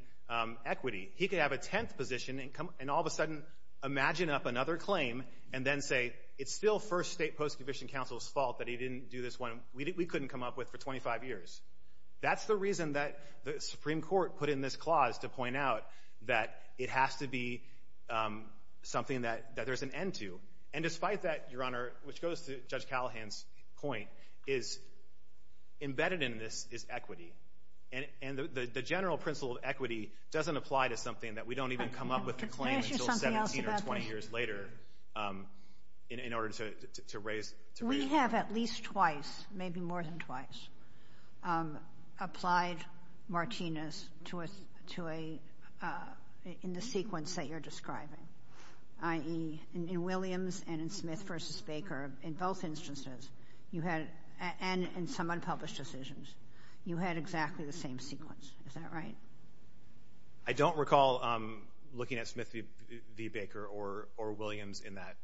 equity. He could have a tenth position and all of a sudden imagine up another claim and then say it's still first State post-conviction counsel's fault that he didn't do this one. We couldn't come up with for 25 years. That's the reason that the Supreme Court put in this clause to point out that it has to be something that there's an end to. And despite that, Your Honor, which goes to Judge Callahan's point, is embedded in this is equity. And the general principle of equity doesn't apply to something that we don't even come up with a claim until 17 or 20 years later in order to raise it. We have at least twice, maybe more than twice, applied Martinez in the sequence that you're describing, i.e., in Williams and in Smith v. Baker, in both instances, and in some unpublished decisions, you had exactly the same sequence. Is that right? I don't recall looking at Smith v. Baker or Williams in that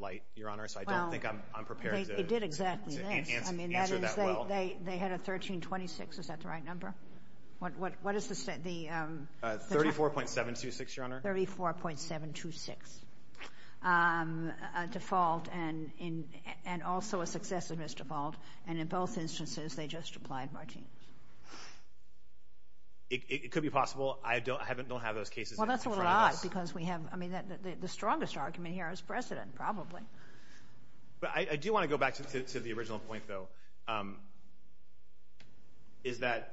light, Your Honor, so I don't think I'm prepared to answer that well. They had a 1326. Is that the right number? What is the state? 34.726, Your Honor. 34.726 default and also a successiveness default, and in both instances they just applied Martinez. It could be possible. I don't have those cases in front of us. Well, that's a lie because we have the strongest argument here is precedent, probably. I do want to go back to the original point, though, is that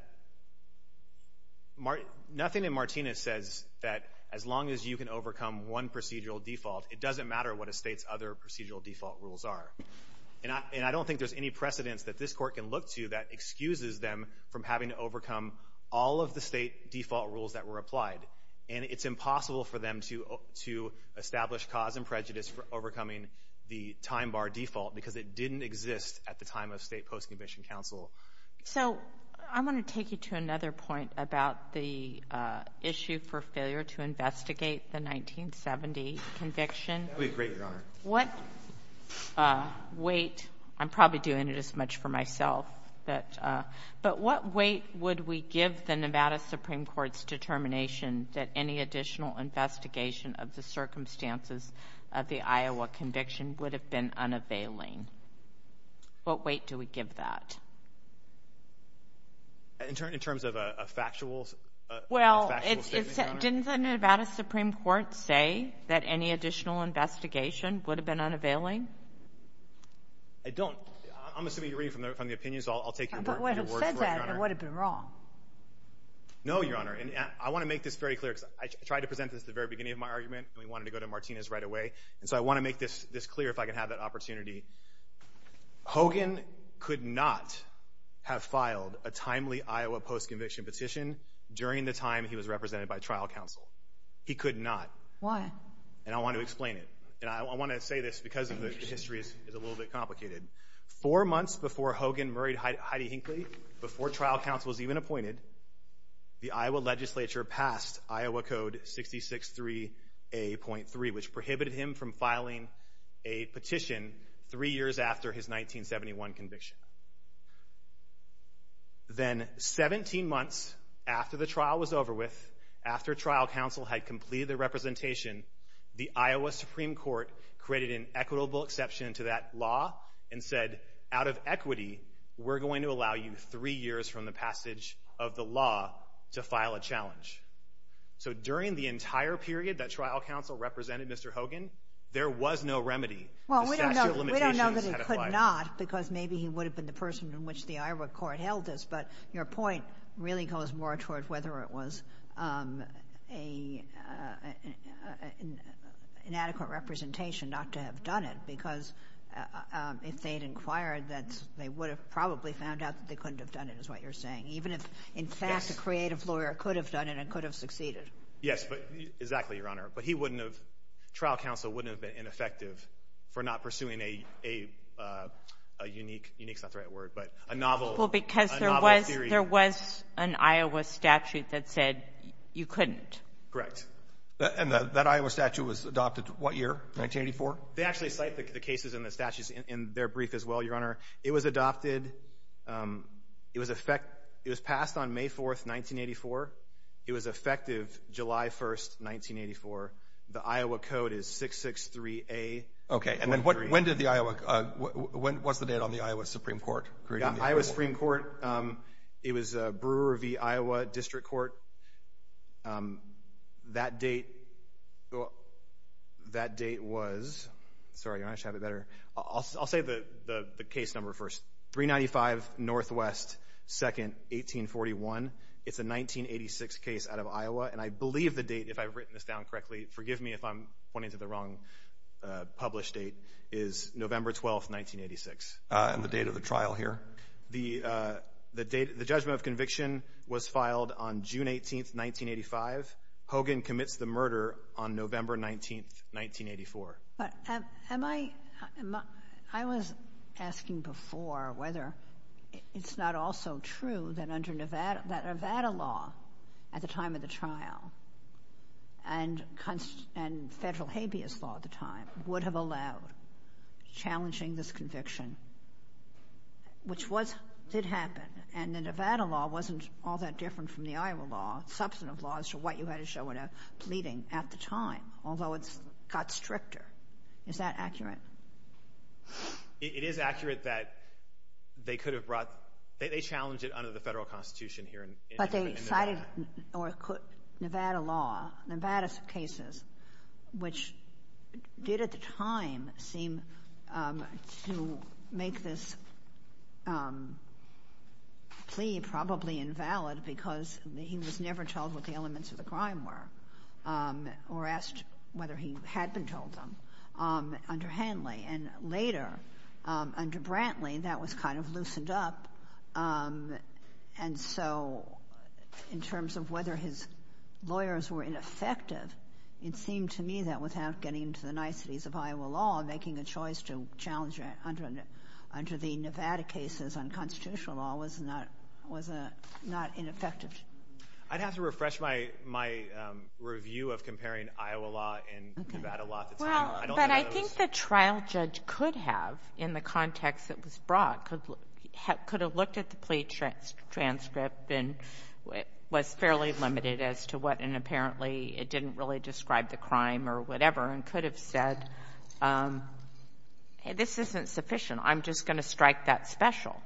nothing in Martinez says that as long as you can overcome one procedural default, it doesn't matter what a state's other procedural default rules are, and I don't think there's any precedence that this Court can look to that excuses them from having to overcome all of the state default rules that were applied, and it's impossible for them to establish cause and prejudice for overcoming the time bar default because it didn't exist at the time of state post-conviction counsel. So I'm going to take you to another point about the issue for failure to investigate the 1970 conviction. That would be great, Your Honor. What weight, I'm probably doing it as much for myself, but what weight would we give the Nevada Supreme Court's determination that any additional investigation of the circumstances of the Iowa conviction would have been unavailing? What weight do we give that? In terms of a factual statement, Your Honor? Well, didn't the Nevada Supreme Court say that any additional investigation would have been unavailing? I don't. I'm assuming you're reading from the opinions. I'll take your words for what they are. But if it said that, it would have been wrong. No, Your Honor, and I want to make this very clear because I tried to present this at the very beginning of my argument, and we wanted to go to Martina's right away, and so I want to make this clear if I can have that opportunity. Hogan could not have filed a timely Iowa post-conviction petition during the time he was represented by trial counsel. He could not. Why? And I want to explain it. And I want to say this because the history is a little bit complicated. Four months before Hogan married Heidi Hinckley, before trial counsel was even appointed, the Iowa legislature passed Iowa Code 66-3A.3, which prohibited him from filing a petition three years after his 1971 conviction. Then 17 months after the trial was over with, after trial counsel had completed the representation, the Iowa Supreme Court created an equitable exception to that law and said, out of equity, we're going to allow you three years from the passage of the law to file a challenge. So during the entire period that trial counsel represented Mr. Hogan, there was no remedy. Well, we don't know that he could not because maybe he would have been the person in which the Iowa court held this, but your point really goes more toward whether it was an inadequate representation not to have done it because if they had inquired, they would have probably found out that they couldn't have done it is what you're saying, even if, in fact, a creative lawyer could have done it and could have succeeded. Yes, exactly, Your Honor. But trial counsel wouldn't have been ineffective for not pursuing a unique, not the right word, but a novel. Well, because there was an Iowa statute that said you couldn't. Correct. And that Iowa statute was adopted what year, 1984? They actually cite the cases in the statutes in their brief as well, Your Honor. It was adopted. It was passed on May 4th, 1984. It was effective July 1st, 1984. The Iowa code is 663A. Okay. And then when was the date on the Iowa Supreme Court? The Iowa Supreme Court, it was Brewer v. Iowa District Court. That date was, sorry, Your Honor, I should have it better. I'll say the case number first, 395 Northwest 2nd, 1841. It's a 1986 case out of Iowa, and I believe the date, if I've written this down correctly, forgive me if I'm pointing to the wrong published date, is November 12th, 1986. And the date of the trial here. The judgment of conviction was filed on June 18th, 1985. Hogan commits the murder on November 19th, 1984. But am I, I was asking before whether it's not also true that under Nevada law at the time of the trial and federal habeas law at the time would have allowed challenging this conviction, which did happen, and the Nevada law wasn't all that different from the Iowa law, substantive laws to what you had to show in a pleading at the time, although it got stricter. Is that accurate? It is accurate that they could have brought, they challenged it under the federal constitution here in Nevada. They cited Nevada law, Nevada's cases, which did at the time seem to make this plea probably invalid because he was never told what the elements of the crime were or asked whether he had been told them under Hanley. And later, under Brantley, that was kind of loosened up. And so in terms of whether his lawyers were ineffective, it seemed to me that without getting into the niceties of Iowa law, making a choice to challenge it under the Nevada cases on constitutional law was not ineffective. I'd have to refresh my review of comparing Iowa law and Nevada law at the time. Well, but I think the trial judge could have in the context it was brought, could have looked at the plea transcript and was fairly limited as to what and apparently it didn't really describe the crime or whatever and could have said, this isn't sufficient, I'm just going to strike that special,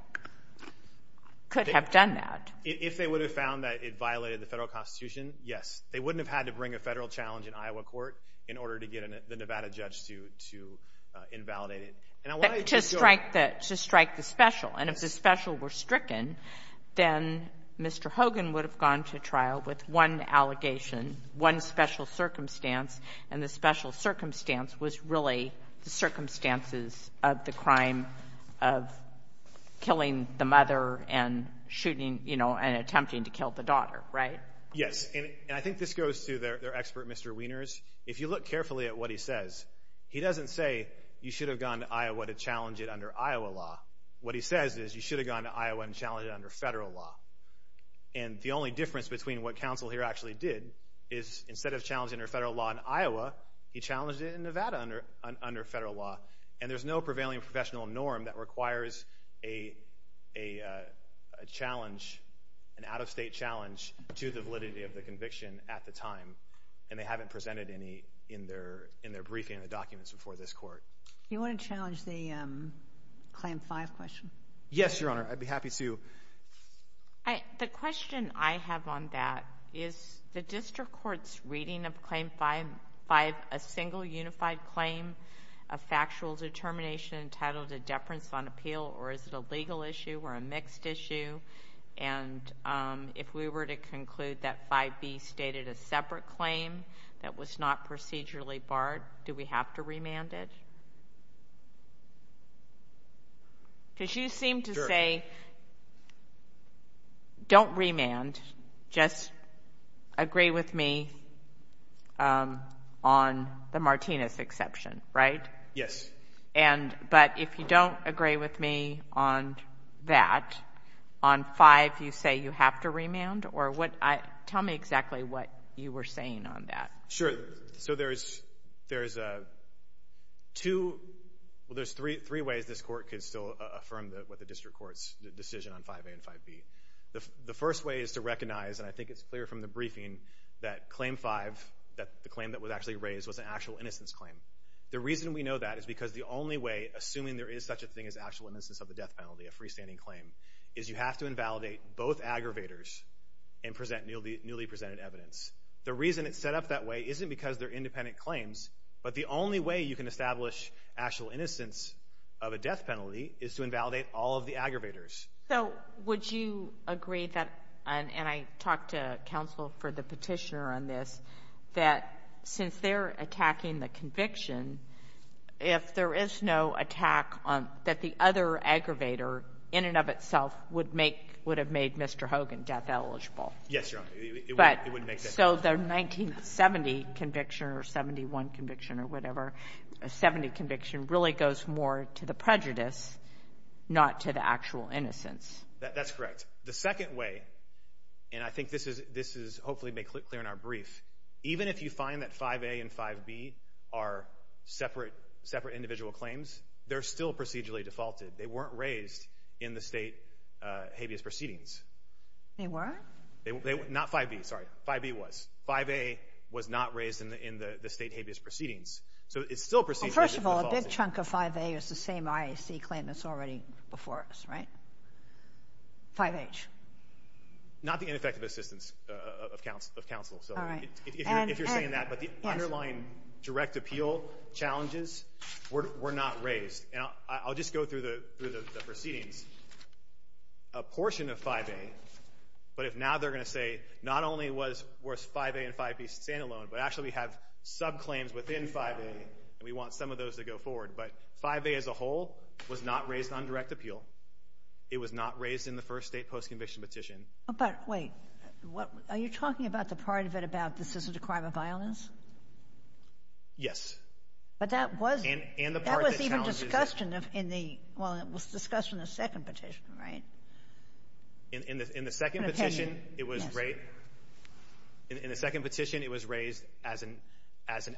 could have done that. If they would have found that it violated the federal constitution, yes. They wouldn't have had to bring a federal challenge in Iowa court in order to get the Nevada judge to invalidate it. To strike the special. And if the special were stricken, then Mr. Hogan would have gone to trial with one allegation, one special circumstance, and the special circumstance was really the circumstances of the crime of killing the mother and shooting and attempting to kill the daughter, right? Yes, and I think this goes to their expert, Mr. Wieners. If you look carefully at what he says, he doesn't say you should have gone to Iowa to challenge it under Iowa law. What he says is you should have gone to Iowa and challenged it under federal law. And the only difference between what counsel here actually did is instead of challenging it under federal law in Iowa, he challenged it in Nevada under federal law. And there's no prevailing professional norm that requires a challenge, an out-of-state challenge to the validity of the conviction at the time, and they haven't presented any in their briefing of the documents before this court. Do you want to challenge the Claim 5 question? Yes, Your Honor. I'd be happy to. The question I have on that is the district court's reading of Claim 5, a single unified claim of factual determination entitled to deference on appeal, or is it a legal issue or a mixed issue? And if we were to conclude that 5B stated a separate claim that was not procedurally barred, do we have to remand it? Because you seem to say don't remand, just agree with me on the Martinez exception, right? Yes. But if you don't agree with me on that, on 5 you say you have to remand? Tell me exactly what you were saying on that. Sure. So there's two—well, there's three ways this court could still affirm what the district court's decision on 5A and 5B. The first way is to recognize, and I think it's clear from the briefing, that Claim 5, the claim that was actually raised, was an actual innocence claim. The reason we know that is because the only way, assuming there is such a thing as actual innocence of the death penalty, a freestanding claim, is you have to invalidate both aggravators and present newly presented evidence. The reason it's set up that way isn't because they're independent claims, but the only way you can establish actual innocence of a death penalty is to invalidate all of the aggravators. So would you agree that, and I talked to counsel for the petitioner on this, that since they're attacking the conviction, if there is no attack that the other aggravator in and of itself would have made Mr. Hogan death eligible? Yes, Your Honor. But so the 1970 conviction or 71 conviction or whatever, a 70 conviction really goes more to the prejudice, not to the actual innocence. That's correct. The second way, and I think this is hopefully made clear in our brief, even if you find that 5A and 5B are separate individual claims, they're still procedurally defaulted. They weren't raised in the state habeas proceedings. They weren't? Not 5B, sorry. 5B was. 5A was not raised in the state habeas proceedings. So it's still procedurally defaulted. Well, first of all, a big chunk of 5A is the same IAC claim that's already before us, right? 5H. Not the ineffective assistance of counsel. All right. If you're saying that, but the underlying direct appeal challenges were not raised. I'll just go through the proceedings. A portion of 5A, but if now they're going to say not only was 5A and 5B stand alone, but actually we have subclaims within 5A and we want some of those to go forward, but 5A as a whole was not raised on direct appeal. It was not raised in the first state postconviction petition. But wait, are you talking about the part of it about this isn't a crime of violence? Yes. But that was even discussed in the second petition, right? In the second petition, it was raised as an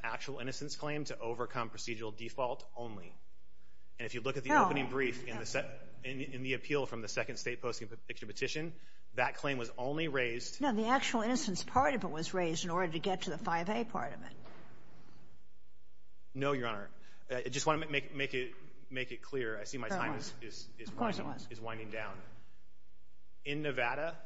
actual innocence claim to overcome procedural default only. And if you look at the opening brief in the appeal from the second state postconviction petition, that claim was only raised. No, the actual innocence part of it was raised in order to get to the 5A part of it. No, Your Honor. I just want to make it clear. I see my time is winding down. In Nevada,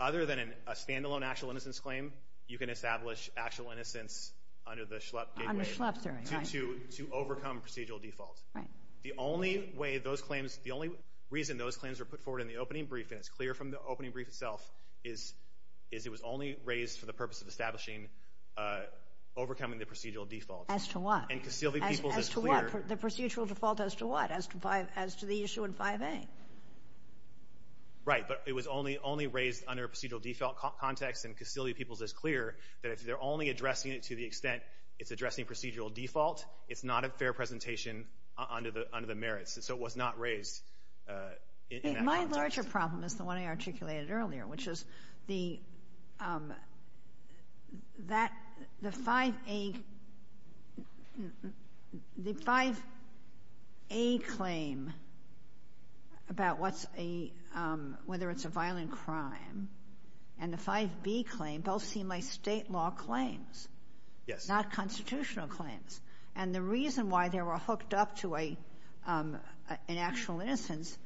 other than a stand-alone actual innocence claim, you can establish actual innocence under the Schlupp gateway to overcome procedural default. Right. The only way those claims, the only reason those claims were put forward in the opening brief, and it's clear from the opening brief itself, is it was only raised for the purpose of establishing overcoming the procedural default. As to what? As to what? The procedural default as to what? As to the issue in 5A? Right. But it was only raised under a procedural default context, and Castility People's is clear that if they're only addressing it to the extent it's addressing procedural default, it's not a fair presentation under the merits. So it was not raised in that context. My larger problem is the one I articulated earlier, which is the 5A claim about whether it's a violent crime and the 5B claim both seem like state law claims. Yes. Not constitutional claims. And the reason why they were hooked up to an actual innocence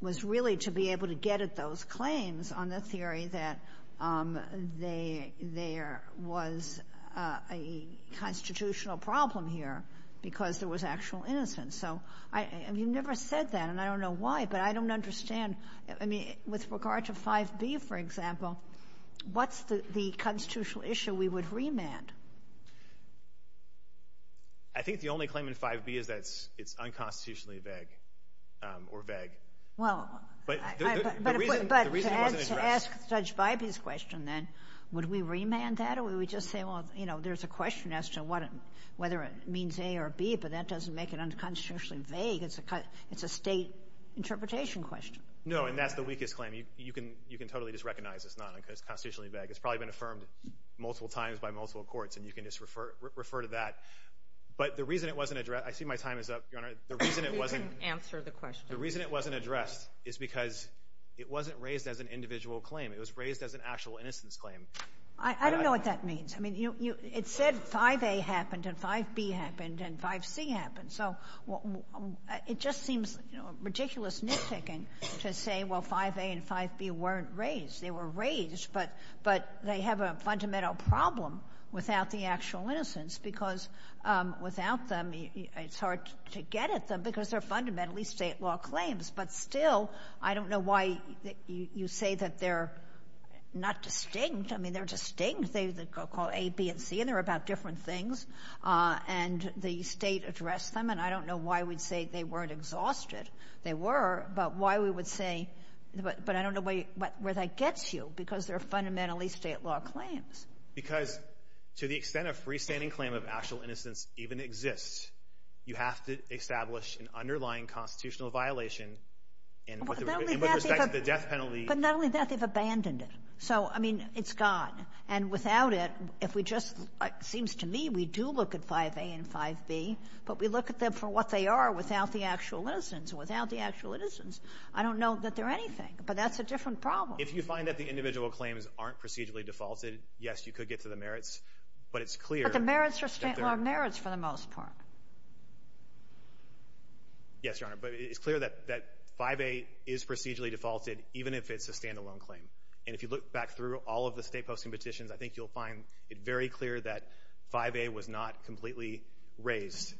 was really to be able to get at those claims on the theory that there was a constitutional problem here because there was actual innocence. So you never said that, and I don't know why, but I don't understand. With regard to 5B, for example, what's the constitutional issue we would remand? I think the only claim in 5B is that it's unconstitutionally vague or vague. But the reason it wasn't addressed. But to ask Judge Bybee's question then, would we remand that or would we just say, well, you know, there's a question as to whether it means A or B, but that doesn't make it unconstitutionally vague. It's a state interpretation question. No, and that's the weakest claim. You can totally just recognize it's not unconstitutionally vague. It's probably been affirmed multiple times by multiple courts, and you can just refer to that. But the reason it wasn't addressed. I see my time is up, Your Honor. You can answer the question. The reason it wasn't addressed is because it wasn't raised as an individual claim. It was raised as an actual innocence claim. I don't know what that means. I mean, it said 5A happened and 5B happened and 5C happened. So it just seems ridiculous nitpicking to say, well, 5A and 5B weren't raised. They were raised, but they have a fundamental problem without the actual innocence because without them, it's hard to get at them because they're fundamentally state law claims. But still, I don't know why you say that they're not distinct. I mean, they're distinct. They're called A, B, and C, and they're about different things. And the state addressed them, and I don't know why we'd say they weren't exhausted. They were, but why we would say, but I don't know where that gets you because they're fundamentally state law claims. Because to the extent a freestanding claim of actual innocence even exists, you have to establish an underlying constitutional violation in respect to the death penalty. But not only that, they've abandoned it. So, I mean, it's gone. And without it, if we just, it seems to me we do look at 5A and 5B, but we look at them for what they are without the actual innocence. Without the actual innocence, I don't know that they're anything. But that's a different problem. If you find that the individual claims aren't procedurally defaulted, yes, you could get to the merits. But it's clear that they're not. But the merits are state law merits for the most part. Yes, Your Honor. But it's clear that 5A is procedurally defaulted even if it's a standalone claim. And if you look back through all of the state posting petitions, I think you'll find it very clear that 5A was not completely raised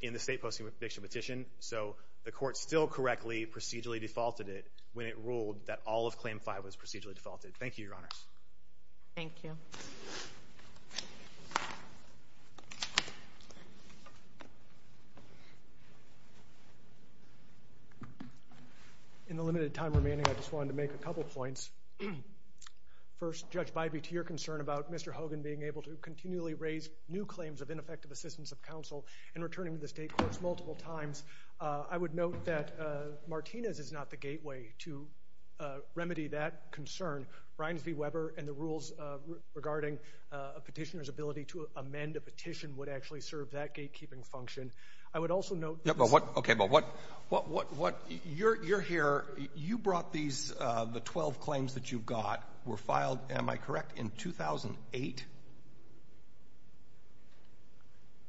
in the state posting petition. So the court still correctly procedurally defaulted it when it ruled that all of Claim 5 was procedurally defaulted. Thank you, Your Honors. Thank you. Thank you. In the limited time remaining, I just wanted to make a couple points. First, Judge Bybee, to your concern about Mr. Hogan being able to continually raise new claims of ineffective assistance of counsel and returning to the state courts multiple times, I would note that Martinez is not the gateway to remedy that concern. Brines v. Weber and the rules regarding a petitioner's ability to amend a petition would actually serve that gatekeeping function. I would also note— Okay, but what—you're here. You brought these—the 12 claims that you got were filed, am I correct, in 2008?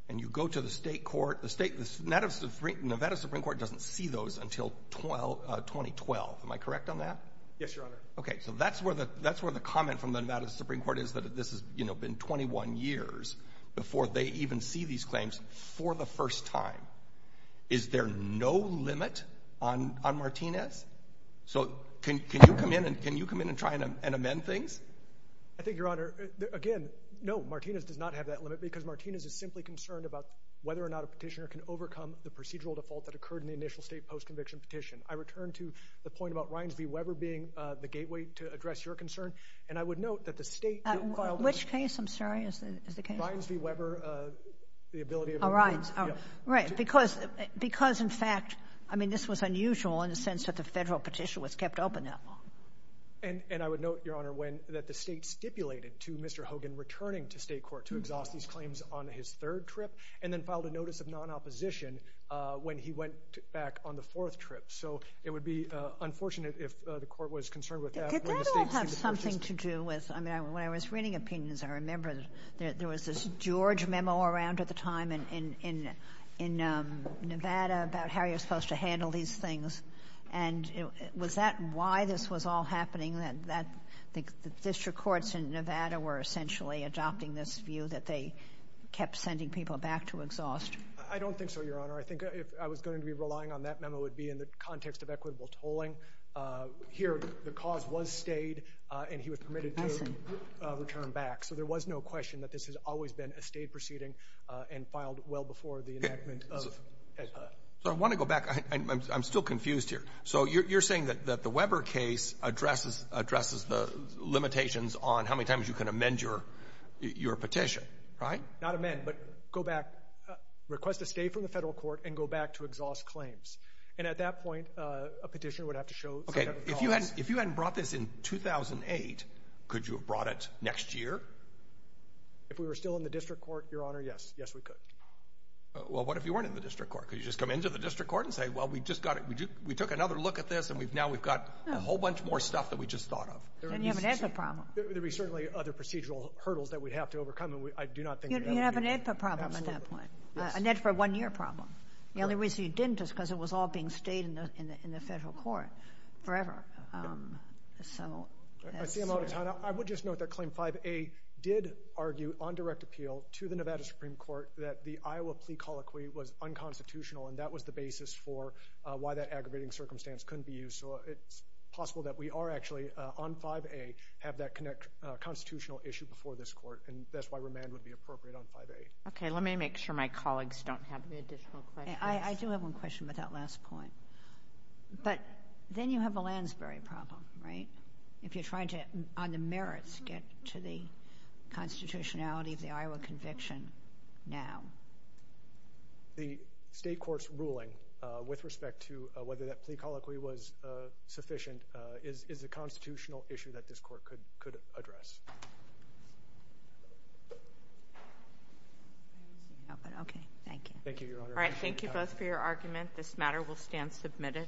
And you go to the state court. The Nevada Supreme Court doesn't see those until 2012. Am I correct on that? Yes, Your Honor. Okay, so that's where the comment from the Nevada Supreme Court is that this has been 21 years before they even see these claims for the first time. Is there no limit on Martinez? So can you come in and try and amend things? I think, Your Honor, again, no, Martinez does not have that limit because Martinez is simply concerned about whether or not a petitioner can overcome the procedural default that occurred in the initial state post-conviction petition. I return to the point about Brines v. Weber being the gateway to address your concern, and I would note that the state— Which case, I'm sorry, is the case? Brines v. Weber, the ability of— Oh, Brines. Right, because in fact—I mean, this was unusual in the sense that the federal petition was kept open that long. And I would note, Your Honor, that the state stipulated to Mr. Hogan returning to state court to exhaust these claims on his third trip and then filed a notice of non-opposition when he went back on the fourth trip. So it would be unfortunate if the court was concerned with that. Did that all have something to do with—I mean, when I was reading opinions, I remember there was this George memo around at the time in Nevada about how you're supposed to handle these things. And was that why this was all happening, that the district courts in Nevada were essentially adopting this view that they kept sending people back to exhaust? I don't think so, Your Honor. I think if I was going to be relying on that memo, it would be in the context of equitable tolling. Here, the cause was stayed, and he was permitted to return back. So there was no question that this has always been a state proceeding and filed well before the enactment of HEDPA. So I want to go back. I'm still confused here. So you're saying that the Weber case addresses the limitations on how many times you can amend your petition, right? Not amend, but go back. Request to stay from the federal court and go back to exhaust claims. And at that point, a petitioner would have to show— Okay, if you hadn't brought this in 2008, could you have brought it next year? If we were still in the district court, Your Honor, yes. Yes, we could. Well, what if you weren't in the district court? Could you just come into the district court and say, well, we took another look at this, and now we've got a whole bunch more stuff that we just thought of? Then you have an HEDPA problem. There would be certainly other procedural hurdles that we'd have to overcome, and I do not think— You'd have an HEDPA problem at that point, an HEDPA one-year problem. The only reason you didn't is because it was all being stayed in the federal court forever. I see I'm out of time. I would just note that Claim 5A did argue on direct appeal to the Nevada Supreme Court that the Iowa plea colloquy was unconstitutional, and that was the basis for why that aggravating circumstance couldn't be used. So it's possible that we are actually on 5A, have that constitutional issue before this court, and that's why remand would be appropriate on 5A. Okay, let me make sure my colleagues don't have any additional questions. I do have one question about that last point. But then you have a Lansbury problem, right, if you're trying to, on the merits, get to the constitutionality of the Iowa conviction now. The state court's ruling with respect to whether that plea colloquy was sufficient is a constitutional issue that this court could address. Okay, thank you. Thank you, Your Honor. All right, thank you both for your argument. This matter will stand submitted. All rise. Thank you. I can get it. I got it. Thank you. Thanks.